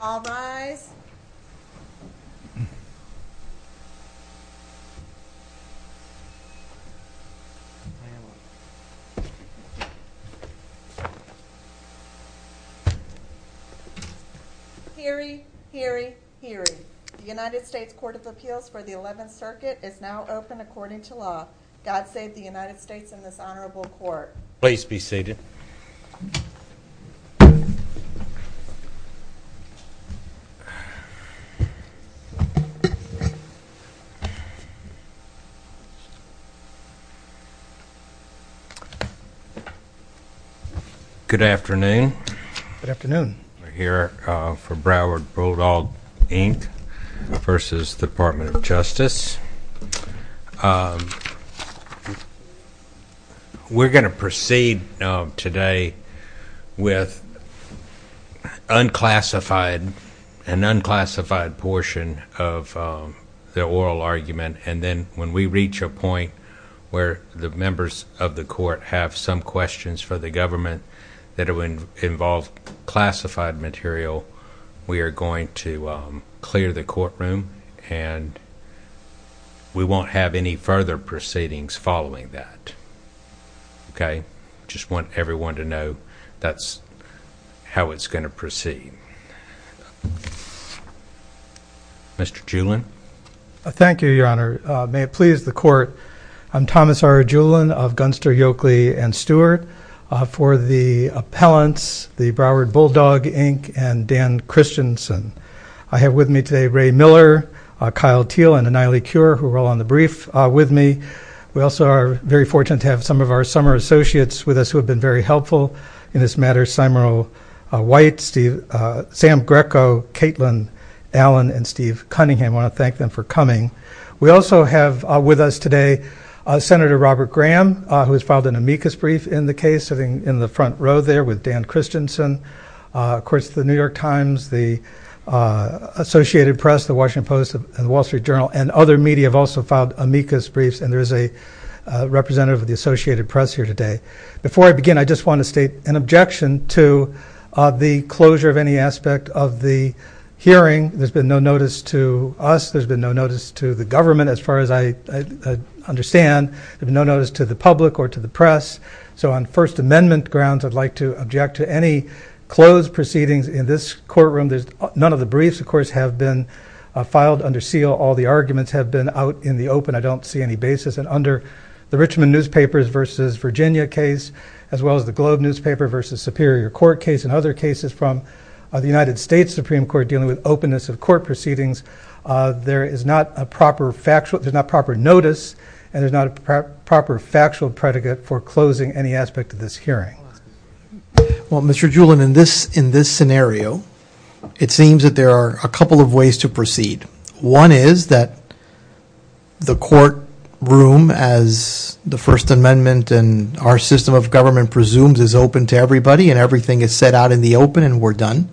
All rise. Hear ye, hear ye, hear ye. The United States Court of Appeals for the 11th Circuit is now open according to law. God save the United States and this honorable court. Please be seated. Good afternoon. Good afternoon. We're here for Broward Bulldog, Inc. v. Department of Justice. We're going to proceed today with an unclassified portion of the oral argument, and then when we reach a point where the members of the court have some questions for the government that involve classified material, we are going to clear the courtroom and we won't have any further proceedings following that. Okay? I just want everyone to know that's how it's going to proceed. Mr. Julen? Thank you, Your Honor. May it please the court, I'm Thomas R. Julen of Gunster, Yolkley & Stewart. For the appellants, the Broward Bulldog, Inc., and Dan Christensen. I have with me today Ray Miller, Kyle Teel, and Annihilee Cure, who are all on the brief with me. We also are very fortunate to have some of our summer associates with us who have been very helpful in this matter, Symero White, Sam Greco, Caitlin Allen, and Steve Cunningham. I want to thank them for coming. We also have with us today Senator Robert Graham, who has filed an amicus brief in the case, sitting in the front row there with Dan Christensen. Of course, the New York Times, the Associated Press, the Washington Post, and the Wall Street Journal, and other media have also filed amicus briefs, and there is a representative of the Associated Press here today. Before I begin, I just want to state an objection to the closure of any aspect of the hearing. There's been no notice to us. There's been no notice to the government, as far as I understand. There's been no notice to the public or to the press. So on First Amendment grounds, I'd like to object to any closed proceedings in this courtroom. None of the briefs, of course, have been filed under seal. All the arguments have been out in the open. I don't see any basis. And under the Richmond newspapers versus Virginia case, as well as the Globe newspaper versus Superior Court case, and other cases from the United States Supreme Court dealing with openness of court proceedings, there is not proper notice and there's not a proper factual predicate for closing any aspect of this hearing. Well, Mr. Jewel, in this scenario, it seems that there are a couple of ways to proceed. One is that the courtroom, as the First Amendment and our system of government presumes, is open to everybody and everything is set out in the open and we're done.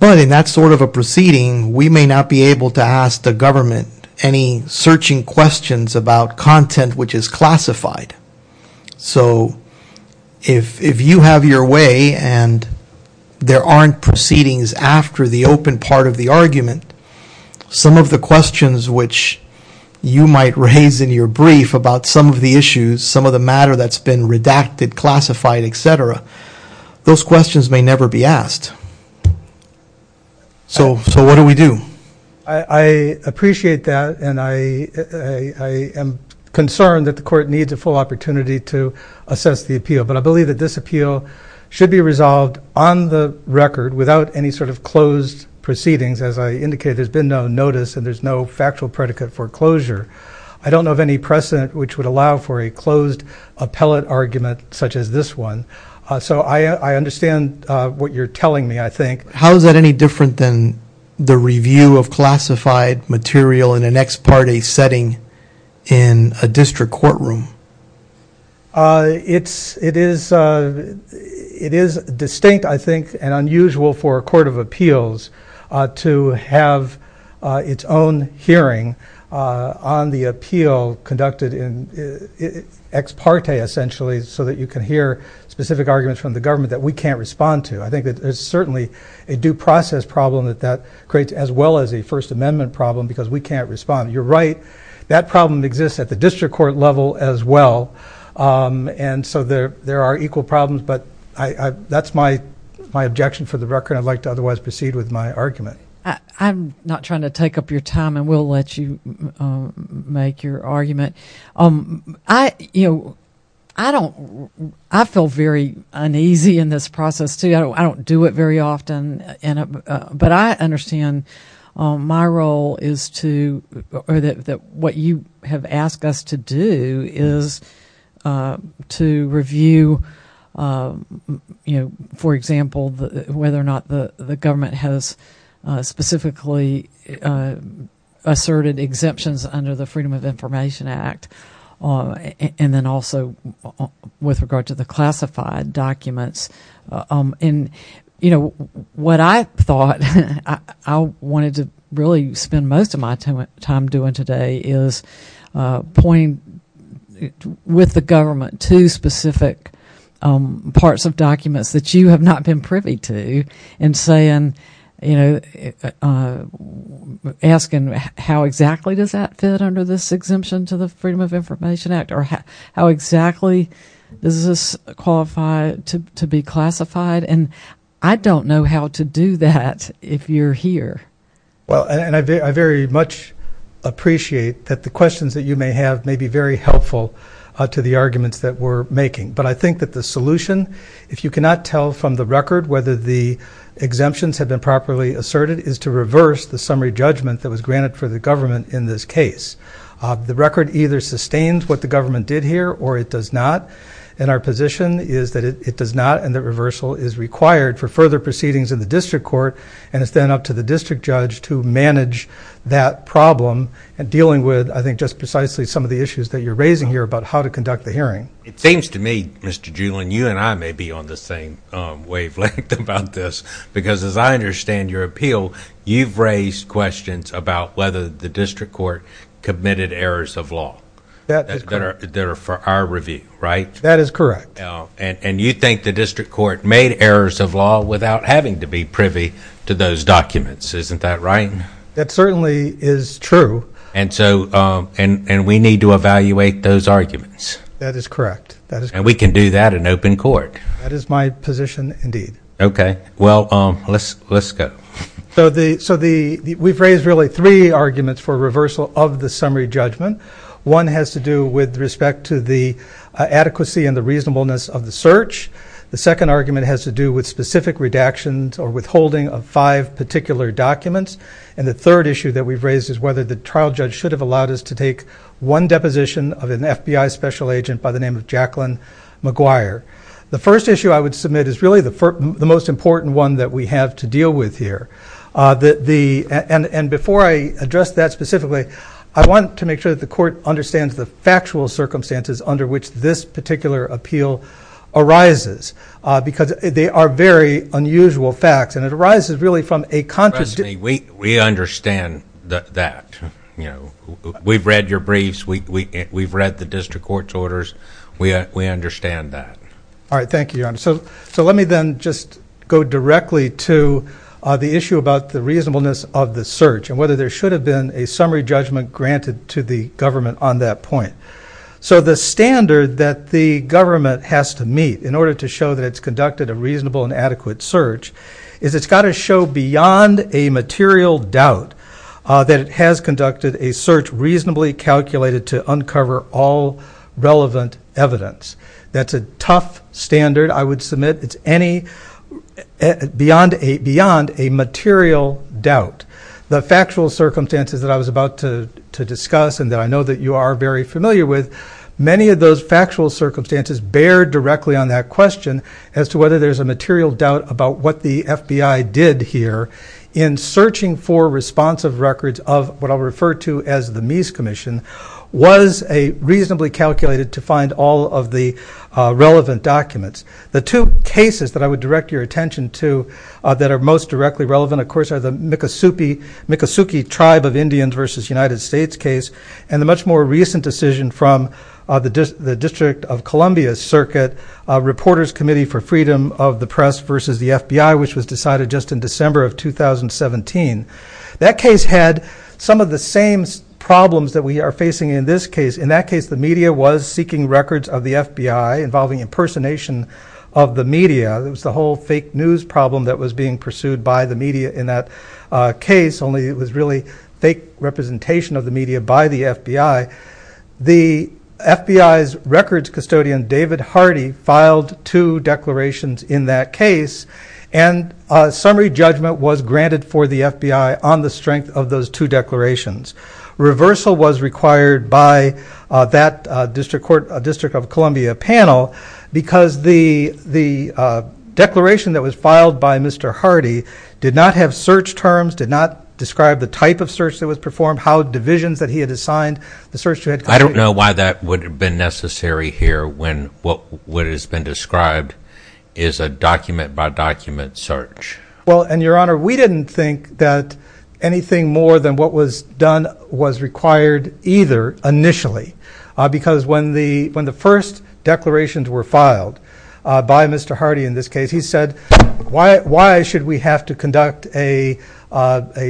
But in that sort of a proceeding, we may not be able to ask the government any searching questions about content which is classified. So if you have your way and there aren't proceedings after the open part of the argument, some of the questions which you might raise in your brief about some of the issues, some of the matter that's been redacted, classified, et cetera, those questions may never be asked. So what do we do? I appreciate that and I am concerned that the court needs a full opportunity to assess the appeal. But I believe that this appeal should be resolved on the record without any sort of closed proceedings. As I indicated, there's been no notice and there's no factual predicate for closure. I don't know of any precedent which would allow for a closed appellate argument such as this one. So I understand what you're telling me, I think. How is that any different than the review of classified material in an ex parte setting in a district courtroom? It is distinct, I think, and unusual for a court of appeals to have its own hearing on the appeal conducted in ex parte essentially so that you can hear specific arguments from the government that we can't respond to. I think that there's certainly a due process problem that that creates as well as a First Amendment problem because we can't respond. You're right. That problem exists at the district court level as well. And so there are equal problems. But that's my objection for the record. I'd like to otherwise proceed with my argument. I'm not trying to take up your time. I will let you make your argument. I feel very uneasy in this process, too. I don't do it very often. But I understand my role is to or that what you have asked us to do is to review, for example, whether or not the government has specifically asserted exemptions under the Freedom of Information Act and then also with regard to the classified documents. And, you know, what I thought I wanted to really spend most of my time doing today is point with the government to specific parts of documents that you have not been privy to and asking how exactly does that fit under this exemption to the Freedom of Information Act or how exactly does this qualify to be classified. And I don't know how to do that if you're here. Well, and I very much appreciate that the questions that you may have may be very helpful to the arguments that we're making. But I think that the solution, if you cannot tell from the record whether the exemptions have been properly asserted, is to reverse the summary judgment that was granted for the government in this case. The record either sustains what the government did here or it does not. And our position is that it does not and that reversal is required for further proceedings in the district court and it's then up to the district judge to manage that problem and dealing with, I think, just precisely some of the issues that you're raising here about how to conduct the hearing. It seems to me, Mr. Doolin, you and I may be on the same wavelength about this because as I understand your appeal, you've raised questions about whether the district court committed errors of law. That is correct. That are for our review, right? That is correct. And you think the district court made errors of law without having to be privy to those documents. Isn't that right? That certainly is true. And we need to evaluate those arguments. That is correct. And we can do that in open court. That is my position indeed. Okay. Well, let's go. So we've raised really three arguments for reversal of the summary judgment. One has to do with respect to the adequacy and the reasonableness of the search. The second argument has to do with specific redactions or withholding of five particular documents. And the third issue that we've raised is whether the trial judge should have allowed us to take one deposition of an FBI special agent by the name of Jacqueline McGuire. The first issue I would submit is really the most important one that we have to deal with here. And before I address that specifically, I want to make sure that the court understands the factual circumstances under which this particular appeal arises. Because they are very unusual facts. And it arises really from a conscious decision. We understand that. We've read your briefs. We've read the district court's orders. We understand that. All right. Thank you, Your Honor. So let me then just go directly to the issue about the reasonableness of the search and whether there should have been a summary judgment granted to the government on that point. So the standard that the government has to meet in order to show that it's conducted a reasonable and adequate search is it's got to show beyond a material doubt that it has conducted a search reasonably calculated to uncover all relevant evidence. That's a tough standard I would submit. It's beyond a material doubt. The factual circumstances that I was about to discuss and that I know that you are very familiar with, many of those factual circumstances bear directly on that question as to whether there's a material doubt about what the FBI did here in searching for responsive records of what I'll refer to as the Mies Commission was reasonably calculated to find all of the relevant documents. The two cases that I would direct your attention to that are most directly relevant, of course, are the Miccosukee Tribe of Indians versus United States case and the much more recent decision from the District of Columbia Circuit Reporters Committee for Freedom of the Press versus the FBI, which was decided just in December of 2017. That case had some of the same problems that we are facing in this case. In that case, the media was seeking records of the FBI involving impersonation of the media. It was the whole fake news problem that was being pursued by the media in that case, only it was really fake representation of the media by the FBI. The FBI's records custodian, David Hardy, filed two declarations in that case and a summary judgment was granted for the FBI on the strength of those two declarations. Reversal was required by that District of Columbia panel because the declaration that was filed by Mr. Hardy did not have search terms, did not describe the type of search that was performed, how divisions that he had assigned. I don't know why that would have been necessary here when what has been described is a document-by-document search. Your Honor, we didn't think that anything more than what was done was required either initially. Because when the first declarations were filed by Mr. Hardy in this case, he said, why should we have to conduct a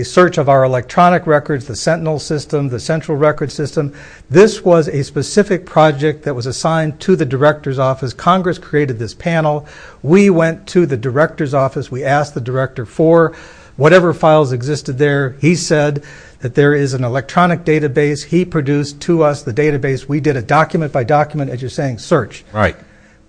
search of our electronic records, the Sentinel system, the central record system? This was a specific project that was assigned to the Director's Office. Congress created this panel. We went to the Director's Office. We asked the Director for whatever files existed there. He said that there is an electronic database. He produced to us the database. We did a document-by-document, as you're saying, search.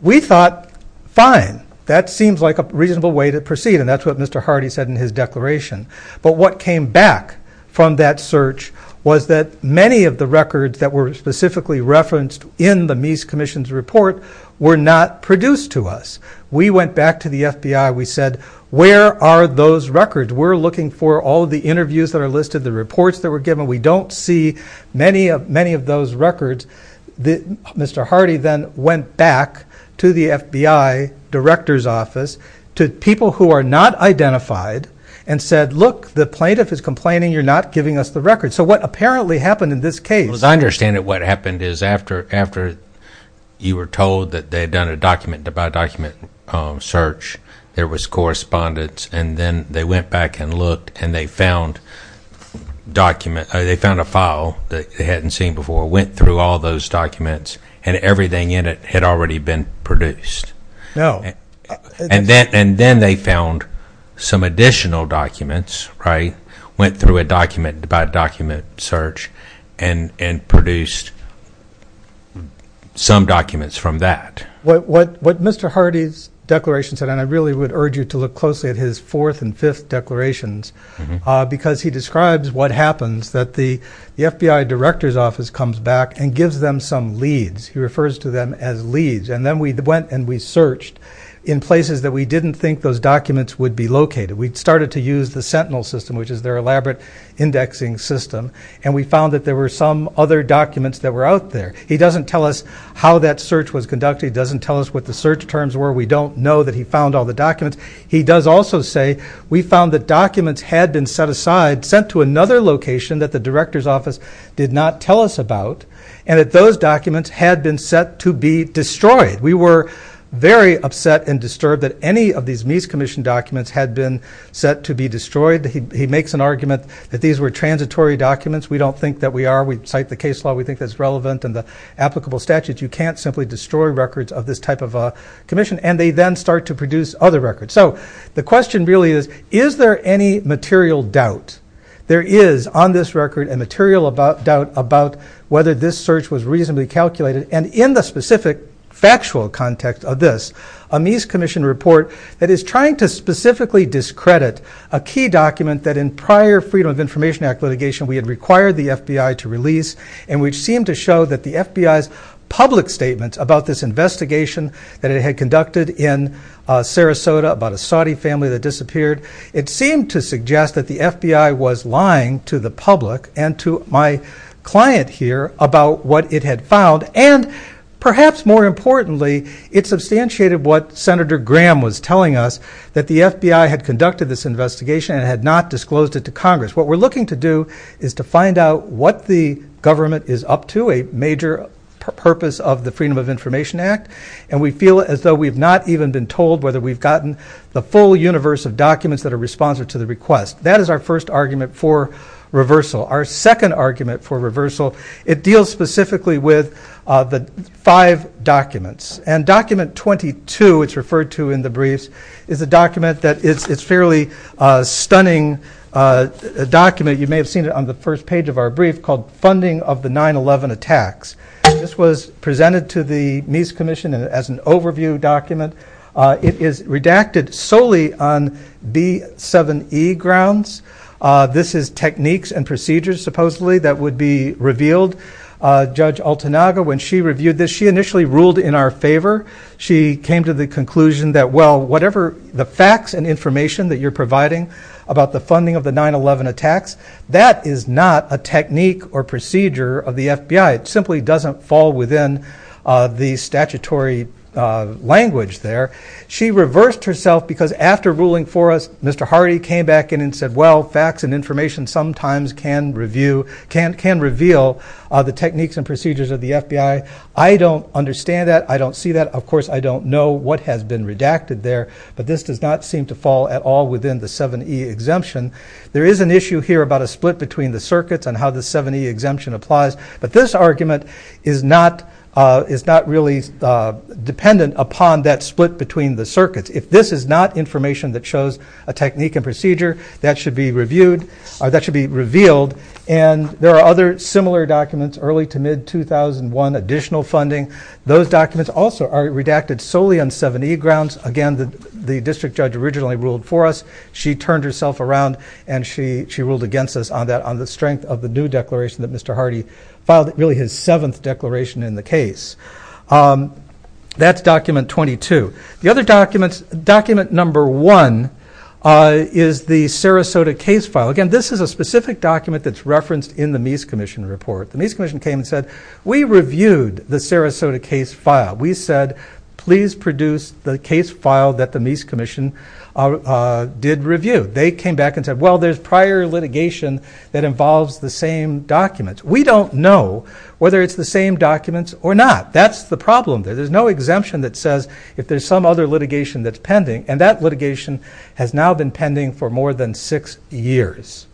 We thought, fine, that seems like a reasonable way to proceed. And that's what Mr. Hardy said in his declaration. But what came back from that search was that many of the records that were specifically referenced in the Mies Commission's report were not produced to us. We went back to the FBI. We said, where are those records? We're looking for all the interviews that are listed, the reports that were given. We don't see many of those records. Mr. Hardy then went back to the FBI Director's Office, to people who are not identified, and said, look, the plaintiff is complaining. You're not giving us the records. So what apparently happened in this case. As I understand it, what happened is after you were told that they had done a document-by-document search, there was correspondence. And then they went back and looked, and they found a file that they hadn't seen before, went through all those documents, and everything in it had already been produced. And then they found some additional documents, went through a document-by-document search, and produced some documents from that. What Mr. Hardy's declaration said, and I really would urge you to look closely at his fourth and fifth declarations, because he describes what happens, that the FBI Director's Office comes back and gives them some leads. He refers to them as leads. And then we went and we searched in places that we didn't think those documents would be located. We started to use the Sentinel system, which is their elaborate indexing system, and we found that there were some other documents that were out there. He doesn't tell us how that search was conducted. He doesn't tell us what the search terms were. We don't know that he found all the documents. He does also say, we found that documents had been set aside, sent to another location that the Director's Office did not tell us about, and that those documents had been set to be destroyed. We were very upset and disturbed that any of these News Commission documents had been set to be destroyed. He makes an argument that these were transitory documents. We don't think that we are. We cite the case law. We think that's relevant in the applicable statutes. You can't simply destroy records of this type of commission, and they then start to produce other records. So the question really is, is there any material doubt? There is, on this record, a material doubt about whether this search was reasonably calculated. And in the specific factual context of this, a News Commission report that is trying to specifically discredit a key document that, in prior Freedom of Information Act litigation, we had required the FBI to release, and which seemed to show that the FBI's public statements about this investigation that it had conducted in Sarasota about a Saudi family that disappeared, it seemed to suggest that the FBI was lying to the public and to my client here about what it had found. And perhaps more importantly, it substantiated what Senator Graham was telling us, that the FBI had conducted this investigation and had not disclosed it to Congress. What we're looking to do is to find out what the government is up to, a major purpose of the Freedom of Information Act, and we feel as though we've not even been told whether we've gotten the full universe of documents that are responsive to the request. That is our first argument for reversal. Our second argument for reversal, it deals specifically with the five documents. And Document 22, it's referred to in the briefs, is a document that is a fairly stunning document. You may have seen it on the first page of our brief called Funding of the 9-11 Attacks. And this was presented to the News Commission as an overview document. It is redacted solely on B7E grounds. This is techniques and procedures, supposedly, that would be revealed. Judge Altanaga, when she reviewed this, she initially ruled in our favor. She came to the conclusion that, well, whatever the facts and information that you're providing about the funding of the 9-11 attacks, that is not a technique or procedure of the FBI. It simply doesn't fall within the statutory language there. She reversed herself because, after ruling for us, Mr. Hardy came back in and said, well, facts and information sometimes can reveal the techniques and procedures of the FBI. I don't understand that. I don't see that. Of course, I don't know what has been redacted there. But this does not seem to fall at all within the 7E exemption. There is an issue here about a split between the circuits and how the 7E exemption applies. But this argument is not really dependent upon that split between the circuits. If this is not information that shows a technique and procedure, that should be revealed. And there are other similar documents, early to mid-2001, additional funding. Those documents also are redacted solely on 7E grounds. Again, the district judge originally ruled for us. She turned herself around and she ruled against us on the strength of the new declaration that Mr. Hardy filed, really his seventh declaration in the case. That's document 22. The other document, document number one, is the Sarasota case file. Again, this is a specific document that's referenced in the Mies Commission report. The Mies Commission came and said, we reviewed the Sarasota case file. We said, please produce the case file that the Mies Commission did review. They came back and said, well, there's prior litigation that involves the same documents. We don't know whether it's the same documents or not. That's the problem. There's no exemption that says if there's some other litigation that's pending. And that litigation has now been pending for more than six years.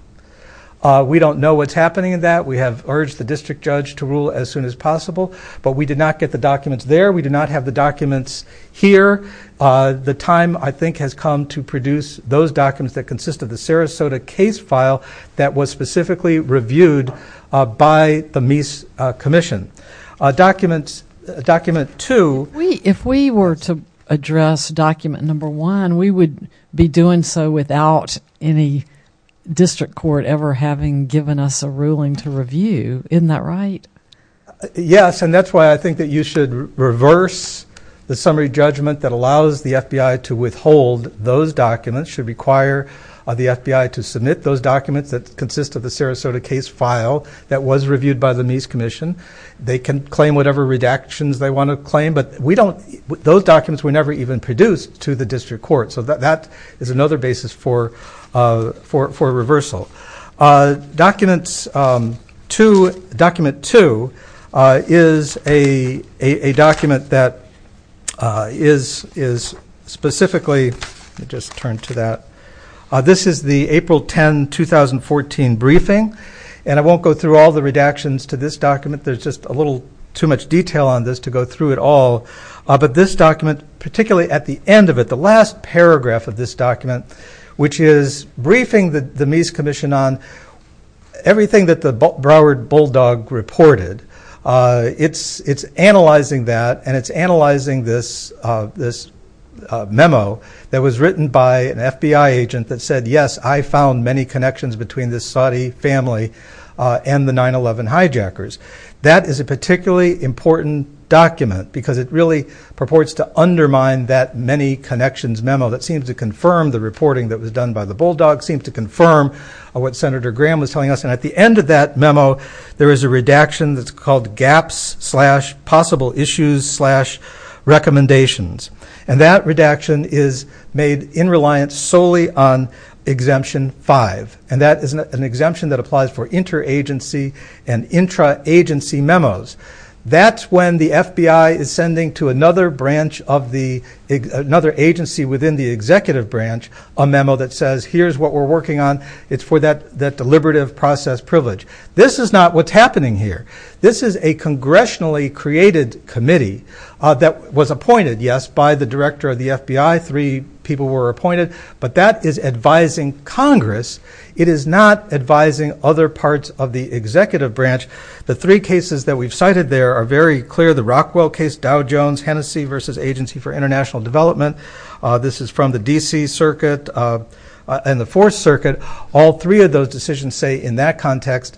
We don't know what's happening in that. We have urged the district judge to rule as soon as possible. But we did not get the documents there. We did not have the documents here. The time, I think, has come to produce those documents that consist of the Sarasota case file that was specifically reviewed by the Mies Commission. Document two. If we were to address document number one, we would be doing so without any district court ever having given us a ruling to review. Isn't that right? Yes. And that's why I think that you should reverse the summary judgment that allows the FBI to withhold those documents. It should require the FBI to submit those documents that consist of the Sarasota case file that was reviewed by the Mies Commission. They can claim whatever redactions they want to claim. But those documents were never even produced to the district court. So that is another basis for reversal. Document two is a document that is specifically ‑‑ let me just turn to that. This is the April 10, 2014 briefing. And I won't go through all the redactions to this document. There's just a little too much detail on this to go through it all. But this document, particularly at the end of it, the last paragraph of this document, which is briefing the Mies Commission on everything that the Broward Bulldog reported. It's analyzing that and it's analyzing this memo that was written by an FBI agent that said, yes, I found many connections between this Saudi family and the 9-11 hijackers. That is a particularly important document because it really purports to undermine that many connections memo that seems to confirm the reporting that was done by the Bulldog, seems to confirm what Senator Graham was telling us. And at the end of that memo, there is a redaction that's called gaps slash possible issues slash recommendations. And that redaction is made in reliance solely on exemption five. And that is an exemption that applies for interagency and intraagency memos. That's when the FBI is sending to another branch of the ‑‑ another agency within the executive branch a memo that says, here's what we're working on. It's for that deliberative process privilege. This is not what's happening here. This is a congressionally created committee that was appointed, yes, by the director of the FBI. Three people were appointed. But that is advising Congress. It is not advising other parts of the executive branch. The three cases that we've cited there are very clear. The Rockwell case, Dow Jones, Hennessey versus Agency for International Development. This is from the D.C. Circuit and the Fourth Circuit. All three of those decisions say in that context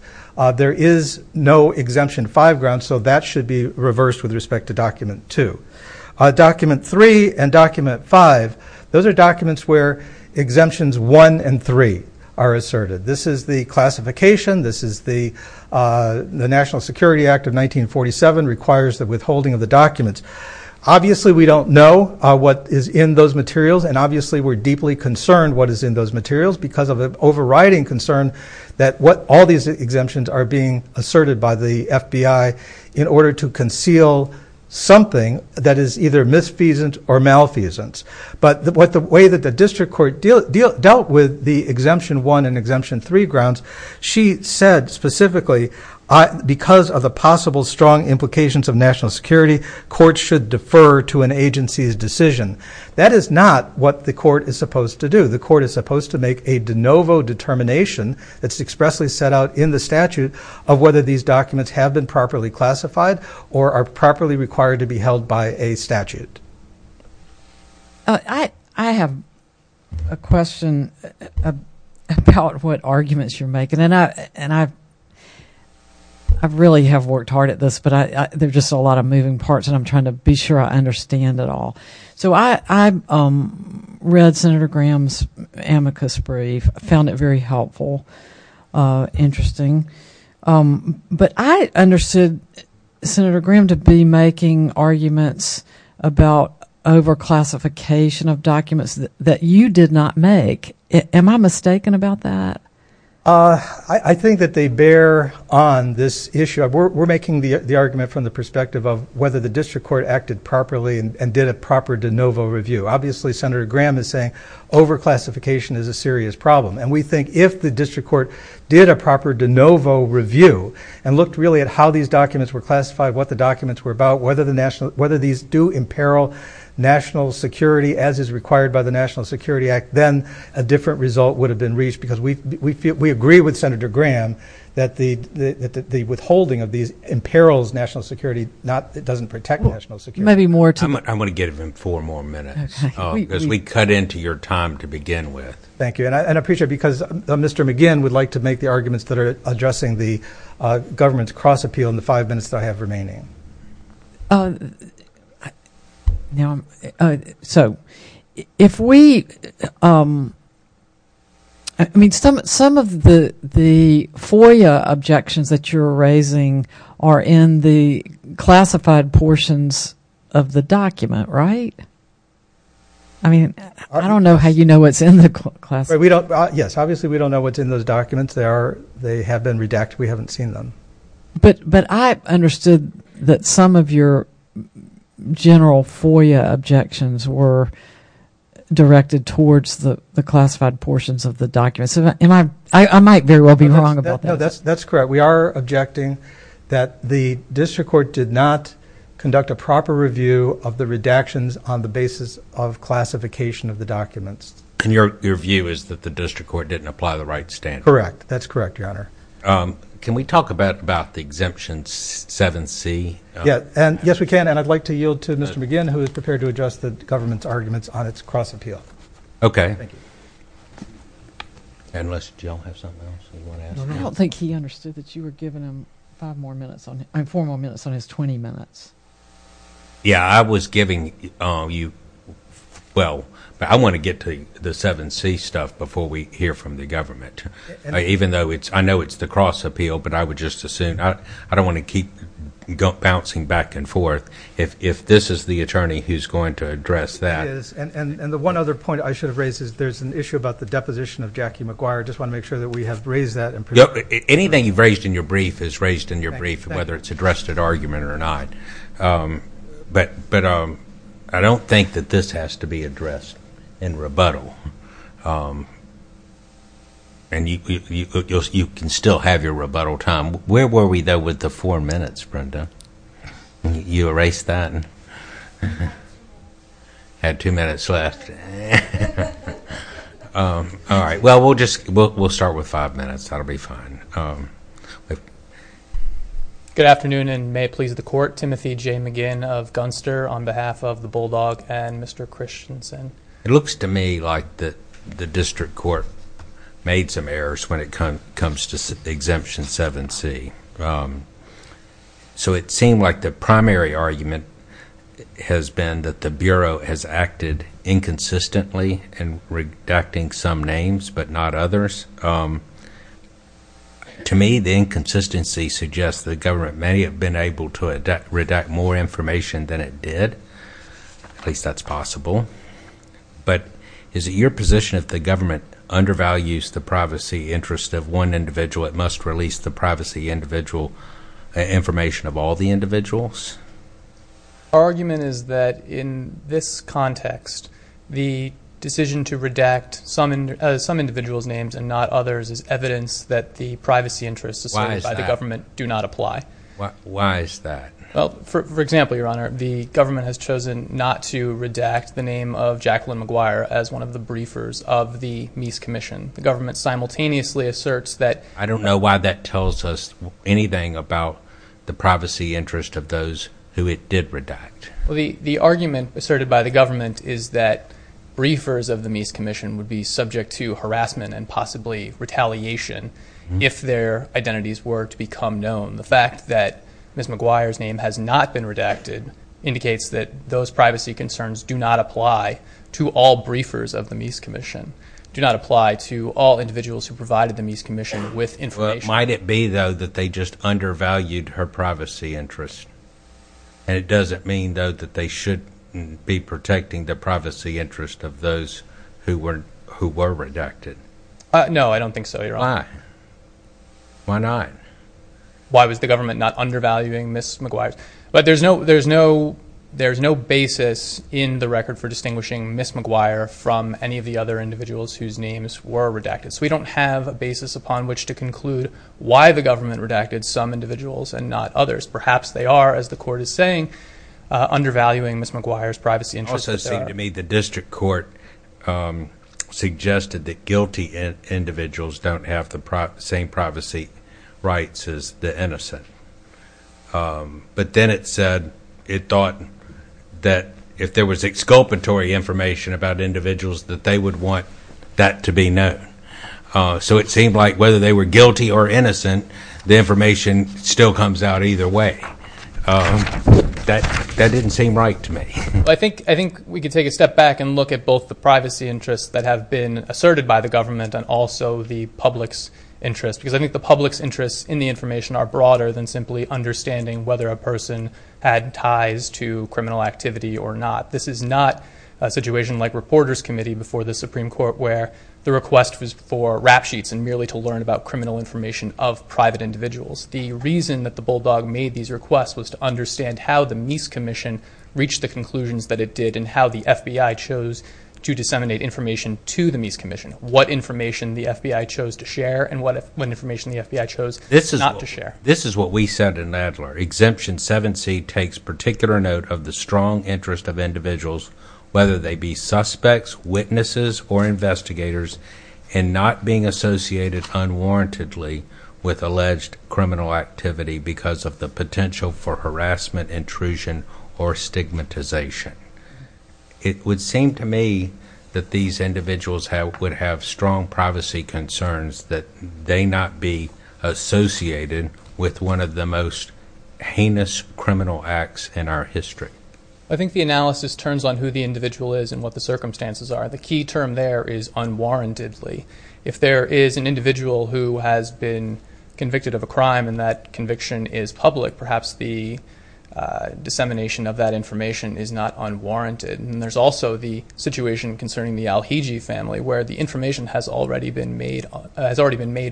there is no exemption five grounds. So that should be reversed with respect to document two. Document three and document five, those are documents where exemptions one and three are asserted. This is the classification. This is the National Security Act of 1947 requires the withholding of the documents. Obviously we don't know what is in those materials. And obviously we're deeply concerned what is in those materials because of an overriding concern that what all these exemptions are being asserted by the FBI in order to conceal something that is either misfeasance or malfeasance. But the way that the district court dealt with the exemption one and exemption three grounds, she said specifically because of the possible strong implications of national security, courts should defer to an agency's decision. That is not what the court is supposed to do. The court is supposed to make a de novo determination that's expressly set out in the statute of whether these documents have been properly classified or are properly required to be held by a statute. I have a question about what arguments you're making. And I really have worked hard at this, but there's just a lot of moving parts and I'm trying to be sure I understand it all. So I read Senator Graham's amicus brief. I found it very helpful, interesting. But I understood Senator Graham to be making arguments about over classification of documents that you did not make. Am I mistaken about that? I think that they bear on this issue. We're making the argument from the perspective of whether the district court acted properly and did a proper de novo review. Obviously, Senator Graham is saying over classification is a serious problem. And we think if the district court did a proper de novo review and looked really at how these documents were classified, what the documents were about, whether these do imperil national security as is required by the National Security Act, then a different result would have been reached because we agree with Senator Graham that the withholding of these imperils national security doesn't protect national security. I'm going to give him four more minutes because we cut into your time to begin with. Thank you. And I appreciate it because Mr. McGinn would like to make the arguments that are addressing the government's cross appeal in the five minutes I have remaining. So if we – I mean, some of the FOIA objections that you're raising are in the classified portions of the document, right? I mean, I don't know how you know what's in the classified. Yes, obviously we don't know what's in those documents. They have been redacted. We haven't seen them. But I understood that some of your general FOIA objections were directed towards the classified portions of the documents. I might very well be wrong about that. No, that's correct. We are objecting that the district court did not conduct a proper review of the redactions on the basis of classification of the documents. And your view is that the district court didn't apply the right standards? Correct. That's correct, Your Honor. Can we talk about the exemptions 7C? Yes, we can. And I'd like to yield to Mr. McGinn, who is prepared to address the government's arguments on its cross appeal. Okay. Thank you. Unless Jill has something else she wants to add. I don't think he understood that you were giving him four more minutes on his 20 minutes. Yeah, I was giving you – well, I want to get to the 7C stuff before we hear from the government. Even though I know it's the cross appeal, but I would just assume – I don't want to keep bouncing back and forth. If this is the attorney who's going to address that. And the one other point I should have raised is there's an issue about the deposition of Jackie McGuire. I just want to make sure that we have raised that. Anything you've raised in your brief is raised in your brief, whether it's addressed at argument or not. But I don't think that this has to be addressed in rebuttal. And you can still have your rebuttal time. Where were we, though, with the four minutes, Brenda? You erased that and had two minutes left. All right. Well, we'll start with five minutes. That'll be fine. Good afternoon and may it please the Court. Timothy J. McGinn of Gunster on behalf of the Bulldog and Mr. Christensen. It looks to me like the district court made some errors when it comes to the exemption 7C. So it seemed like the primary argument has been that the Bureau has acted inconsistently in redacting some names but not others. To me, the inconsistency suggests that the government may have been able to redact more information than it did. At least that's possible. But is it your position that the government undervalues the privacy interests of one individual and must release the privacy information of all the individuals? Our argument is that in this context, the decision to redact some individuals' names and not others is evidence that the privacy interests assigned by the government do not apply. Why is that? Well, for example, Your Honor, the government has chosen not to redact the name of Jacqueline McGuire as one of the briefers of the Mies Commission. The government simultaneously asserts that... I don't know why that tells us anything about the privacy interests of those who it did redact. The argument asserted by the government is that briefers of the Mies Commission would be subject to harassment and possibly retaliation if their identities were to become known. The fact that Ms. McGuire's name has not been redacted indicates that those privacy concerns do not apply to all briefers of the Mies Commission, do not apply to all individuals who provided the Mies Commission with information. Might it be, though, that they just undervalued her privacy interests? And does it mean, though, that they shouldn't be protecting the privacy interests of those who were redacted? No, I don't think so, Your Honor. Why? Why not? Why was the government not undervaluing Ms. McGuire's? But there's no basis in the record for distinguishing Ms. McGuire from any of the other individuals whose names were redacted. So we don't have a basis upon which to conclude why the government redacted some individuals and not others. Perhaps they are, as the Court is saying, undervaluing Ms. McGuire's privacy interests. It also seemed to me the district court suggested that guilty individuals don't have the same privacy rights as the innocent. But then it said it thought that if there was exculpatory information about individuals, that they would want that to be known. So it seemed like whether they were guilty or innocent, the information still comes out either way. That didn't seem right to me. I think we can take a step back and look at both the privacy interests that have been asserted by the government and also the public's interest. Because I think the public's interests in the information are broader than simply understanding whether a person had ties to criminal activity or not. This is not a situation like Reporters Committee before the Supreme Court where the request was for rap sheets and merely to learn about criminal information of private individuals. The reason that the Bulldog made these requests was to understand how the Mies Commission reached the conclusions that it did and how the FBI chose to disseminate information to the Mies Commission, what information the FBI chose to share and what information the FBI chose not to share. This is what we said in Nadler. Exemption 7C takes particular note of the strong interest of individuals, whether they be suspects, witnesses, or investigators, and not being associated unwarrantedly with alleged criminal activity because of the potential for harassment, intrusion, or stigmatization. It would seem to me that these individuals would have strong privacy concerns that they not be associated with one of the most heinous criminal acts in our history. I think the analysis turns on who the individual is and what the circumstances are. The key term there is unwarrantedly. If there is an individual who has been convicted of a crime and that conviction is public, perhaps the dissemination of that information is not unwarranted. There's also the situation concerning the Al-Hijji family where the information has already been made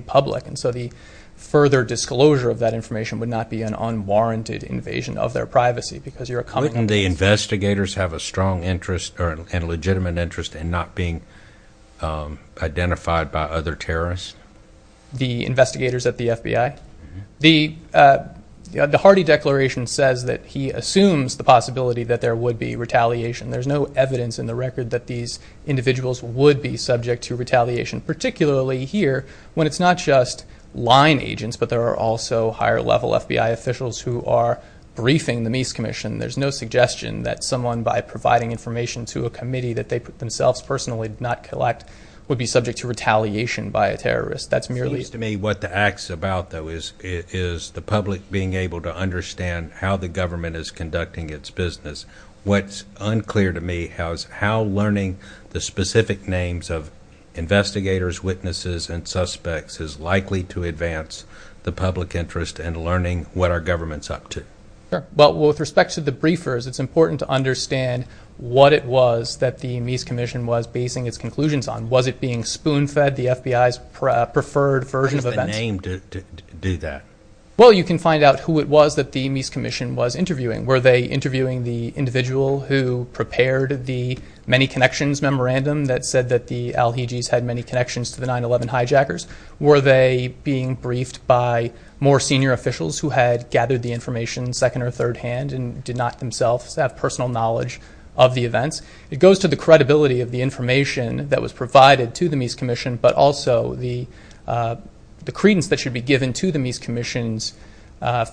public, so the further disclosure of that information would not be an unwarranted invasion of their privacy. Wouldn't the investigators have a strong interest or a legitimate interest in not being identified by other terrorists? The investigators at the FBI? The Hardy Declaration says that he assumes the possibility that there would be retaliation. There's no evidence in the record that these individuals would be subject to retaliation, particularly here when it's not just line agents, but there are also higher-level FBI officials who are briefing the Mies Commission. There's no suggestion that someone, by providing information to a committee that they themselves personally did not collect, would be subject to retaliation by a terrorist. It seems to me what the act's about, though, is the public being able to understand how the government is conducting its business. What's unclear to me is how learning the specific names of investigators, witnesses, and suspects is likely to advance the public interest in learning what our government's up to. Well, with respect to the briefers, it's important to understand what it was that the Mies Commission was basing its conclusions on. Was it being spoon-fed the FBI's preferred version of events? What was the name to do that? Well, you can find out who it was that the Mies Commission was interviewing. Were they interviewing the individual who prepared the Many Connections Memorandum that said that the al-Hijis had many connections to the 9-11 hijackers? Were they being briefed by more senior officials who had gathered the information second- or third-hand and did not themselves have personal knowledge of the events? It goes to the credibility of the information that was provided to the Mies Commission, but also the credence that should be given to the Mies Commission's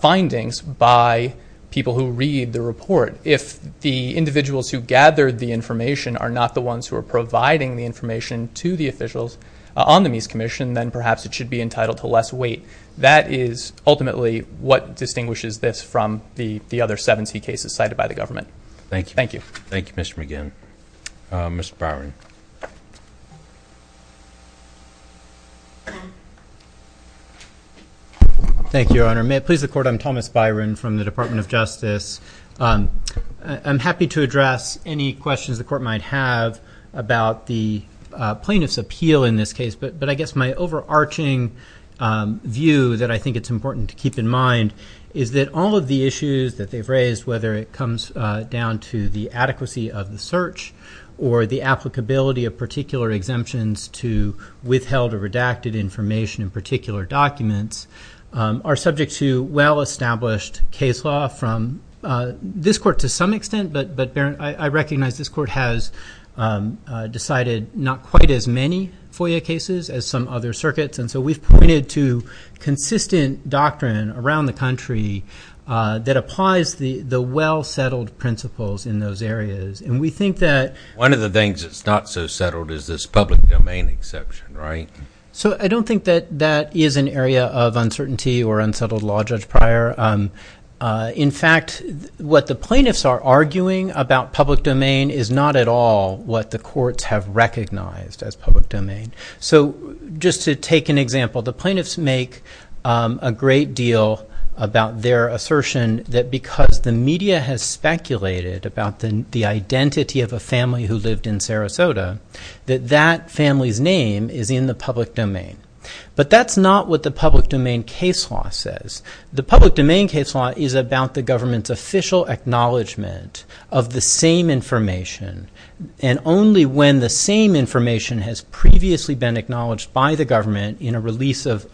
findings by people who read the report. If the individuals who gathered the information are not the ones who are providing the information to the officials on the Mies Commission, then perhaps it should be entitled to less weight. That is ultimately what distinguishes this from the other 70 cases cited by the government. Thank you. Thank you, Mr. McGinn. Mr. Byron. Thank you, Your Honor. May it please the Court, I'm Thomas Byron from the Department of Justice. I'm happy to address any questions the Court might have about the plaintiff's appeal in this case, but I guess my overarching view that I think it's important to keep in mind is that all of the issues that they've raised, whether it comes down to the adequacy of the search or the applicability of particular exemptions to withheld or redacted information in particular documents, are subject to well-established case law from this Court to some extent, but I recognize this Court has decided not quite as many FOIA cases as some other circuits, and so we've pointed to consistent doctrine around the country that applies the well-settled principles in those areas, and we think that... One of the things that's not so settled is this public domain exception, right? So I don't think that that is an area of uncertainty or unsettled law, Judge Pryor. In fact, what the plaintiffs are arguing about public domain is not at all what the courts have recognized as public domain. So just to take an example, the plaintiffs make a great deal about their assertion that because the media has speculated about the identity of a family who lived in Sarasota, that that family's name is in the public domain. But that's not what the public domain case law says. The public domain case law is about the government's official acknowledgement of the same information, and only when the same information has previously been acknowledged by the government in a release of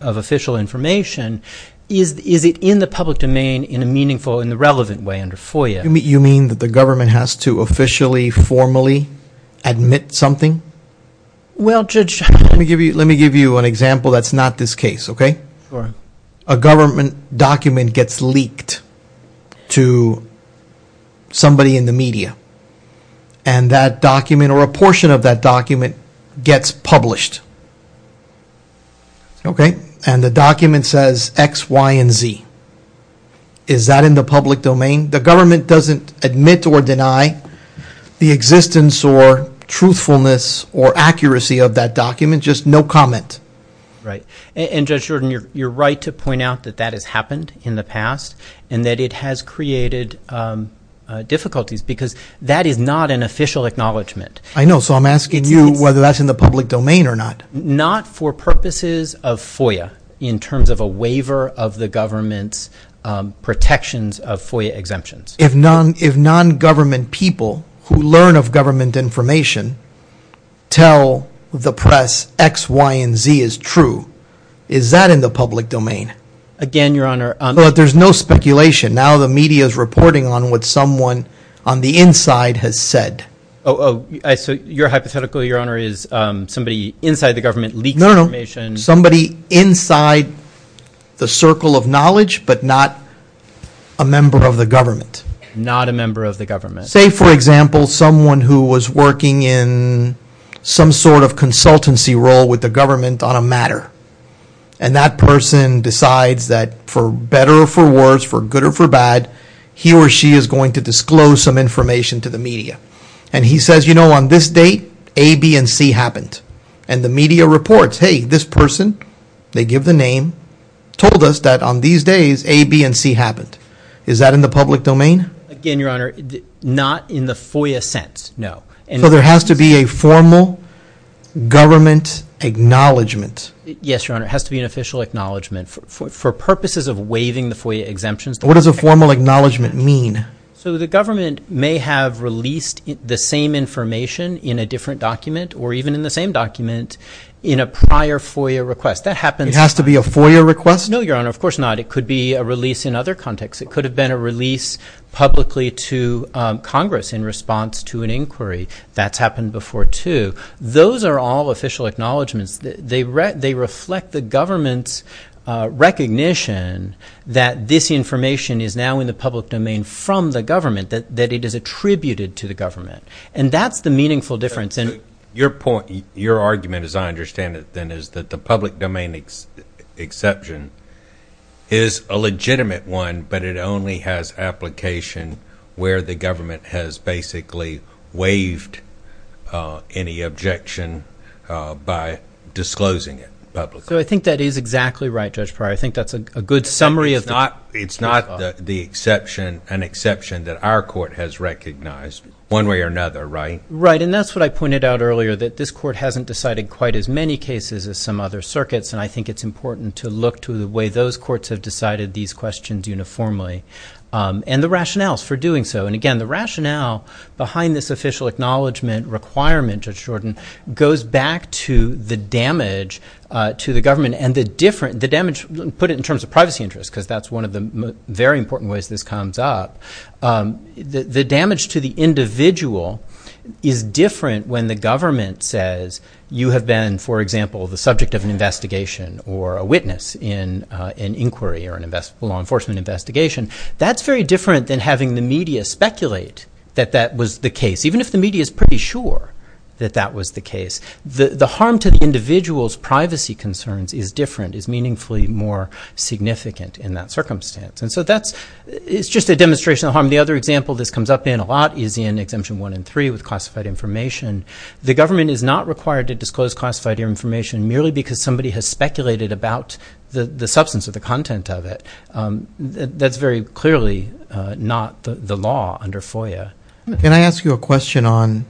official information is it in the public domain in a meaningful and relevant way under FOIA. You mean that the government has to officially, formally admit something? Well, Judge, let me give you an example that's not this case, okay? A government document gets leaked to somebody in the media, and that document or a portion of that document gets published, okay? And the document says X, Y, and Z. Is that in the public domain? The government doesn't admit or deny the existence or truthfulness or accuracy of that document, just no comment. Right, and Judge Jordan, you're right to point out that that has happened in the past and that it has created difficulties because that is not an official acknowledgement. I know, so I'm asking you whether that's in the public domain or not. Not for purposes of FOIA in terms of a waiver of the government's protections of FOIA exemptions. If non-government people who learn of government information tell the press X, Y, and Z is true, is that in the public domain? Again, Your Honor— But there's no speculation. Now the media is reporting on what someone on the inside has said. So your hypothetical, Your Honor, is somebody inside the government leaking information— No, no, somebody inside the circle of knowledge but not a member of the government. Not a member of the government. Say, for example, someone who was working in some sort of consultancy role with the government on a matter, and that person decides that for better or for worse, for good or for bad, he or she is going to disclose some information to the media. And he says, you know, on this date, A, B, and C happened. And the media reports, hey, this person, they give the name, told us that on these days, A, B, and C happened. Is that in the public domain? Again, Your Honor, not in the FOIA sense, no. So there has to be a formal government acknowledgement. Yes, Your Honor, it has to be an official acknowledgement. For purposes of waiving the FOIA exemptions— What does a formal acknowledgement mean? So the government may have released the same information in a different document or even in the same document in a prior FOIA request. That happens— It has to be a FOIA request? No, Your Honor, of course not. It could be a release in other contexts. It could have been a release publicly to Congress in response to an inquiry. That's happened before, too. Those are all official acknowledgements. They reflect the government's recognition that this information is now in the public domain from the government, that it is attributed to the government. And that's the meaningful difference. Your argument, as I understand it, then, is that the public domain exception is a legitimate one, but it only has application where the government has basically waived any objection by disclosing it publicly. So I think that is exactly right, Judge Pryor. I think that's a good summary of— It's not an exception that our court has recognized, one way or another, right? Right, and that's what I pointed out earlier, that this court hasn't decided quite as many cases as some other circuits, and I think it's important to look to the way those courts have decided these questions uniformly and the rationales for doing so. And, again, the rationale behind this official acknowledgment requirement, Judge Jordan, goes back to the damage to the government and the different— put it in terms of privacy interests because that's one of the very important ways this comes up. The damage to the individual is different when the government says you have been, for example, the subject of an investigation or a witness in an inquiry or a law enforcement investigation. That's very different than having the media speculate that that was the case, even if the media is pretty sure that that was the case. The harm to the individual's privacy concerns is different, is meaningfully more significant in that circumstance. And so that's—it's just a demonstration of harm. The other example this comes up in a lot is in Exemption 1 and 3 with classified information. The government is not required to disclose classified information merely because somebody has speculated about the substance or the content of it. That's very clearly not the law under FOIA. Can I ask you a question on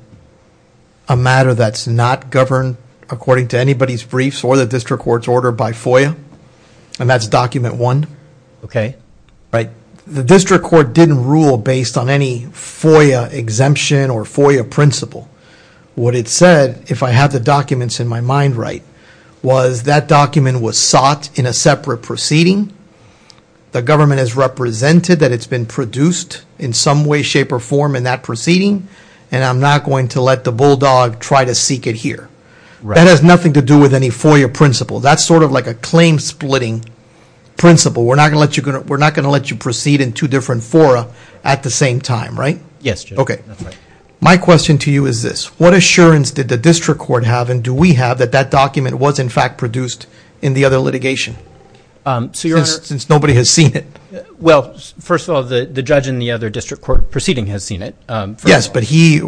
a matter that's not governed according to anybody's briefs or the district court's order by FOIA, and that's Document 1? Okay. The district court didn't rule based on any FOIA exemption or FOIA principle. What it said, if I have the documents in my mind right, was that document was sought in a separate proceeding, the government has represented that it's been produced in some way, shape, or form in that proceeding, and I'm not going to let the bulldog try to seek it here. That has nothing to do with any FOIA principle. That's sort of like a claim-splitting principle. We're not going to let you proceed in two different FOIA at the same time, right? Yes, Judge. Okay. My question to you is this. What assurance did the district court have, and do we have, that that document was in fact produced in the other litigation since nobody has seen it? Well, first of all, the judge in the other district court proceeding has seen it. Yes, but he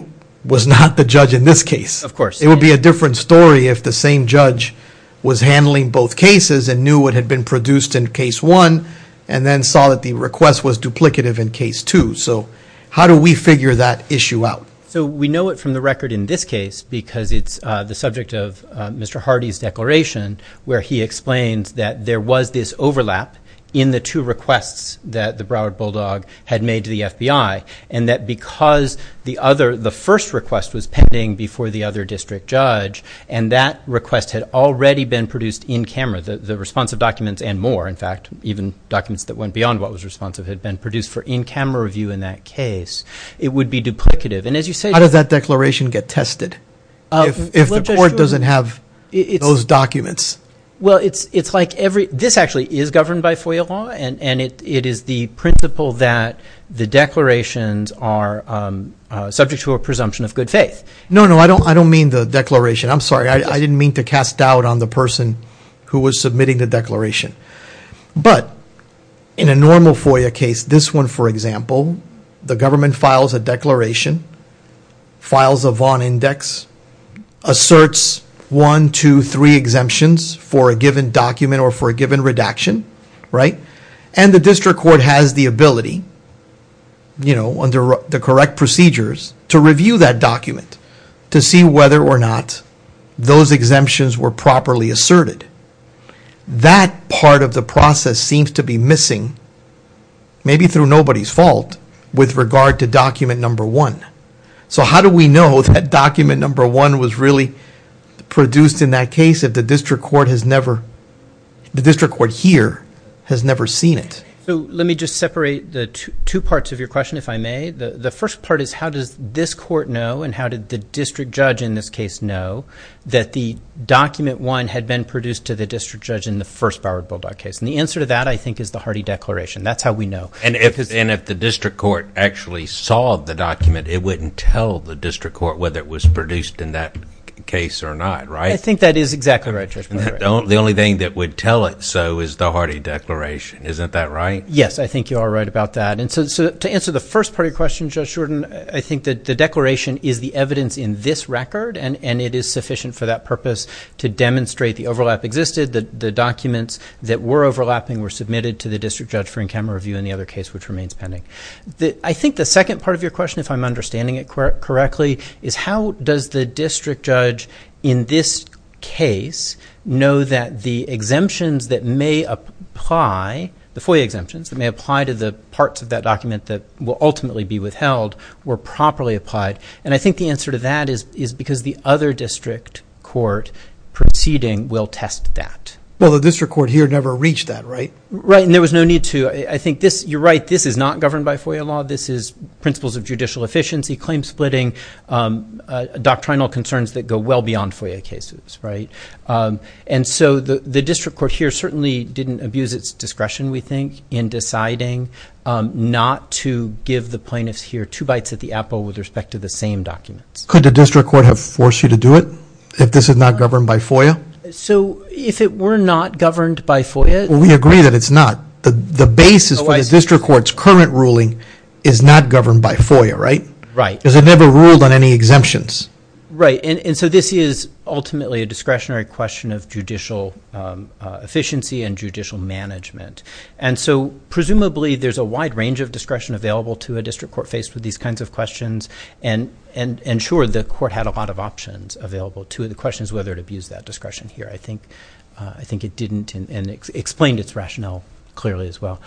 was not the judge in this case. Of course. It would be a different story if the same judge was handling both cases and knew what had been produced in case one and then saw that the request was duplicative in case two. So how do we figure that issue out? So we know it from the record in this case because it's the subject of Mr. Hardy's declaration where he explained that there was this overlap in the two requests that the Broward Bulldog had made to the FBI, and that because the first request was pending before the other district judge and that request had already been produced in camera, the responsive documents and more. In fact, even documents that went beyond what was responsive had been produced for in-camera review in that case. It would be duplicative. How does that declaration get tested if the court doesn't have those documents? Well, it's like this actually is governed by FOIA law, and it is the principle that the declarations are subject to a presumption of good faith. No, no. I don't mean the declaration. I'm sorry. I didn't mean to cast doubt on the person who was submitting the declaration. But in a normal FOIA case, this one, for example, the government files a declaration, files a Vaughn index, asserts one, two, three exemptions for a given document or for a given redaction, right? And the district court has the ability, you know, under the correct procedures, to review that document to see whether or not those exemptions were properly asserted. That part of the process seems to be missing, maybe through nobody's fault, with regard to document number one. So how do we know that document number one was really produced in that case if the district court here has never seen it? So let me just separate the two parts of your question, if I may. The first part is how does this court know and how did the district judge in this case know that the document one had been produced to the district judge in the first Bowery Bulldog case? And the answer to that, I think, is the Hardy Declaration. That's how we know. And if the district court actually saw the document, it wouldn't tell the district court whether it was produced in that case or not, right? I think that is exactly right. The only thing that would tell it so is the Hardy Declaration. Isn't that right? Yes, I think you are right about that. And so to answer the first part of your question, Judge Shorten, I think that the declaration is the evidence in this record and it is sufficient for that purpose to demonstrate the overlap existed, the documents that were overlapping were submitted to the district judge for in-camera review in the other case, which remains pending. I think the second part of your question, if I'm understanding it correctly, is how does the district judge in this case know that the exemptions that may apply, the FOIA exemptions that may apply to the parts of that document that will ultimately be withheld were properly applied? And I think the answer to that is because the other district court proceeding will test that. Well, the district court here never reached that, right? Right, and there was no need to. I think this, you're right, this is not governed by FOIA law. This is principles of judicial efficiency, claim splitting, doctrinal concerns that go well beyond FOIA cases, right? And so the district court here certainly didn't abuse its discretion, we think, in deciding not to give the plaintiffs here two bites at the apple with respect to the same documents. Could the district court have forced you to do it if this was not governed by FOIA? So if it were not governed by FOIA... We agree that it's not. The basis of the district court's current ruling is not governed by FOIA, right? Right. Because it never ruled on any exemptions. Right, and so this is ultimately a discretionary question of judicial efficiency and judicial management. And so presumably there's a wide range of discretion available to a district court faced with these kinds of questions, and sure, the court had a lot of options available to it. The question is whether it abused that discretion here. I think it didn't, and it explained its rationale clearly as well.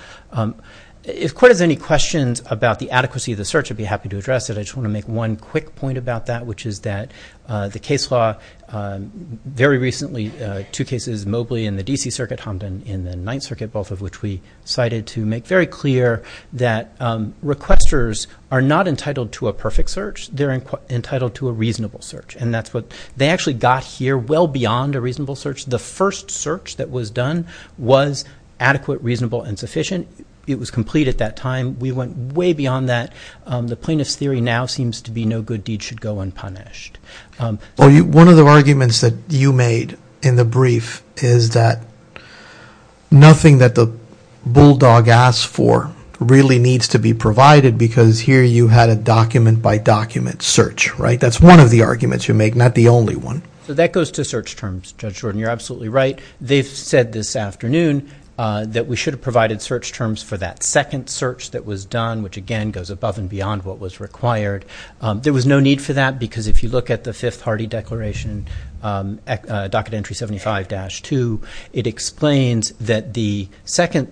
If court has any questions about the adequacy of the search, I'd be happy to address it. I just want to make one quick point about that, which is that the case law very recently, two cases, Mobley in the D.C. Circuit, Humpton in the Ninth Circuit, both of which we cited to make very clear that requesters are not entitled to a perfect search. They're entitled to a reasonable search, and that's what they actually got here well beyond a reasonable search. The first search that was done was adequate, reasonable, and sufficient. It was complete at that time. We went way beyond that. The plaintiff's theory now seems to be no good deed should go unpunished. One of the arguments that you made in the brief is that nothing that the bulldog asked for really needs to be provided because here you had a document-by-document search, right? That's one of the arguments you make, not the only one. So that goes to search terms, Judge Jordan. You're absolutely right. They've said this afternoon that we should have provided search terms for that second search that was done, which again goes above and beyond what was required. There was no need for that because if you look at the Fifth Party Declaration, Document Entry 75-2, it explains that the second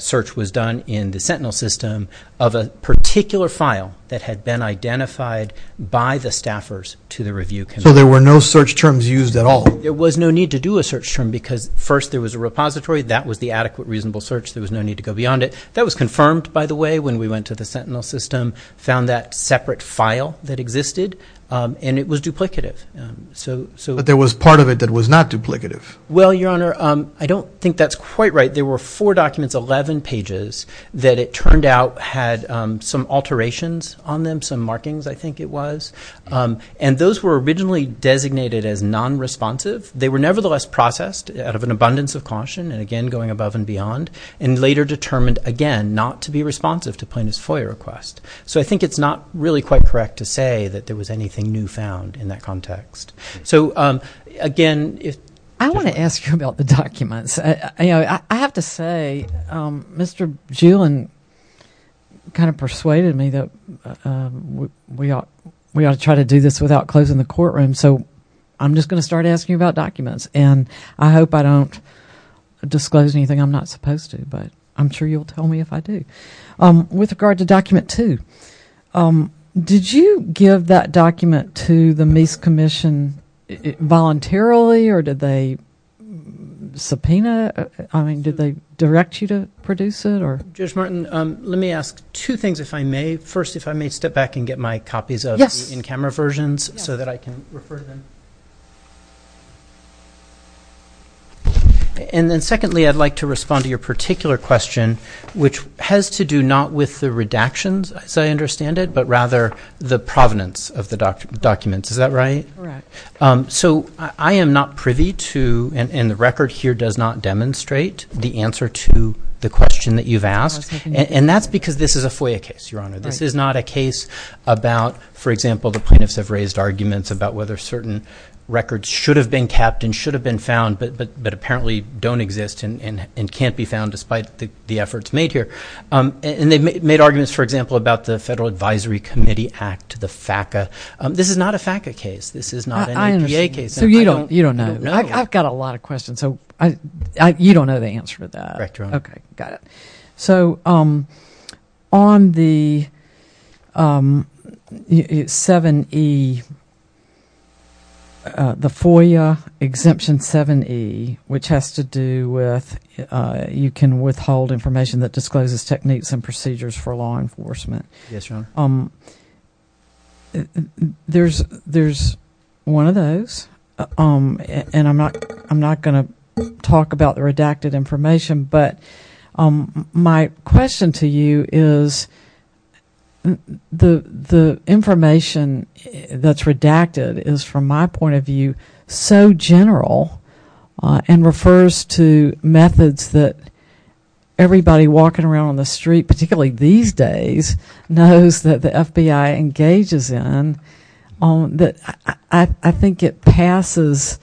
search was done in the Sentinel system of a particular file that had been identified by the staffers to the review committee. So there were no search terms used at all? There was no need to do a search term because first there was a repository. That was the adequate, reasonable search. There was no need to go beyond it. That was confirmed, by the way, when we went to the Sentinel system, found that separate file that existed, and it was duplicative. But there was part of it that was not duplicative. Well, Your Honor, I don't think that's quite right. There were four documents, 11 pages, that it turned out had some alterations on them, some markings I think it was. And those were originally designated as non-responsive. They were nevertheless processed out of an abundance of caution, and again going above and beyond, and later determined, again, not to be responsive to plaintiff's FOIA request. So I think it's not really quite correct to say that there was anything new found in that context. So, again, I want to ask you about the documents. You know, I have to say, Mr. Julian kind of persuaded me that we ought to try to do this without closing the courtroom. So I'm just going to start asking about documents, and I hope I don't disclose anything I'm not supposed to, but I'm sure you'll tell me if I do. With regard to Document 2, did you give that document to the Meese Commission voluntarily, or did they direct you to produce it? Judge Martin, let me ask two things if I may. First, if I may step back and get my copies of the in-camera versions so that I can refer to them. And then secondly, I'd like to respond to your particular question, which has to do not with the redactions, as I understand it, but rather the provenance of the documents. Is that right? Correct. So I am not privy to, and the record here does not demonstrate the answer to the question that you've asked, and that's because this is a FOIA case, Your Honor. This is not a case about, for example, the plaintiffs have raised arguments about whether certain records should have been kept and should have been found, but apparently don't exist and can't be found despite the efforts made here. And they made arguments, for example, about the Federal Advisory Committee Act, the FACA. This is not a FACA case. So you don't know. I've got a lot of questions, so you don't know the answer to that. Correct, Your Honor. Okay, got it. So on the 7E, the FOIA Exemption 7E, which has to do with you can withhold information that discloses techniques and procedures for law enforcement. Yes, Your Honor. There's one of those, and I'm not going to talk about the redacted information, but my question to you is the information that's redacted is, from my point of view, so general and refers to methods that everybody walking around on the street, particularly these days, knows that the FBI engages in, that I think it passes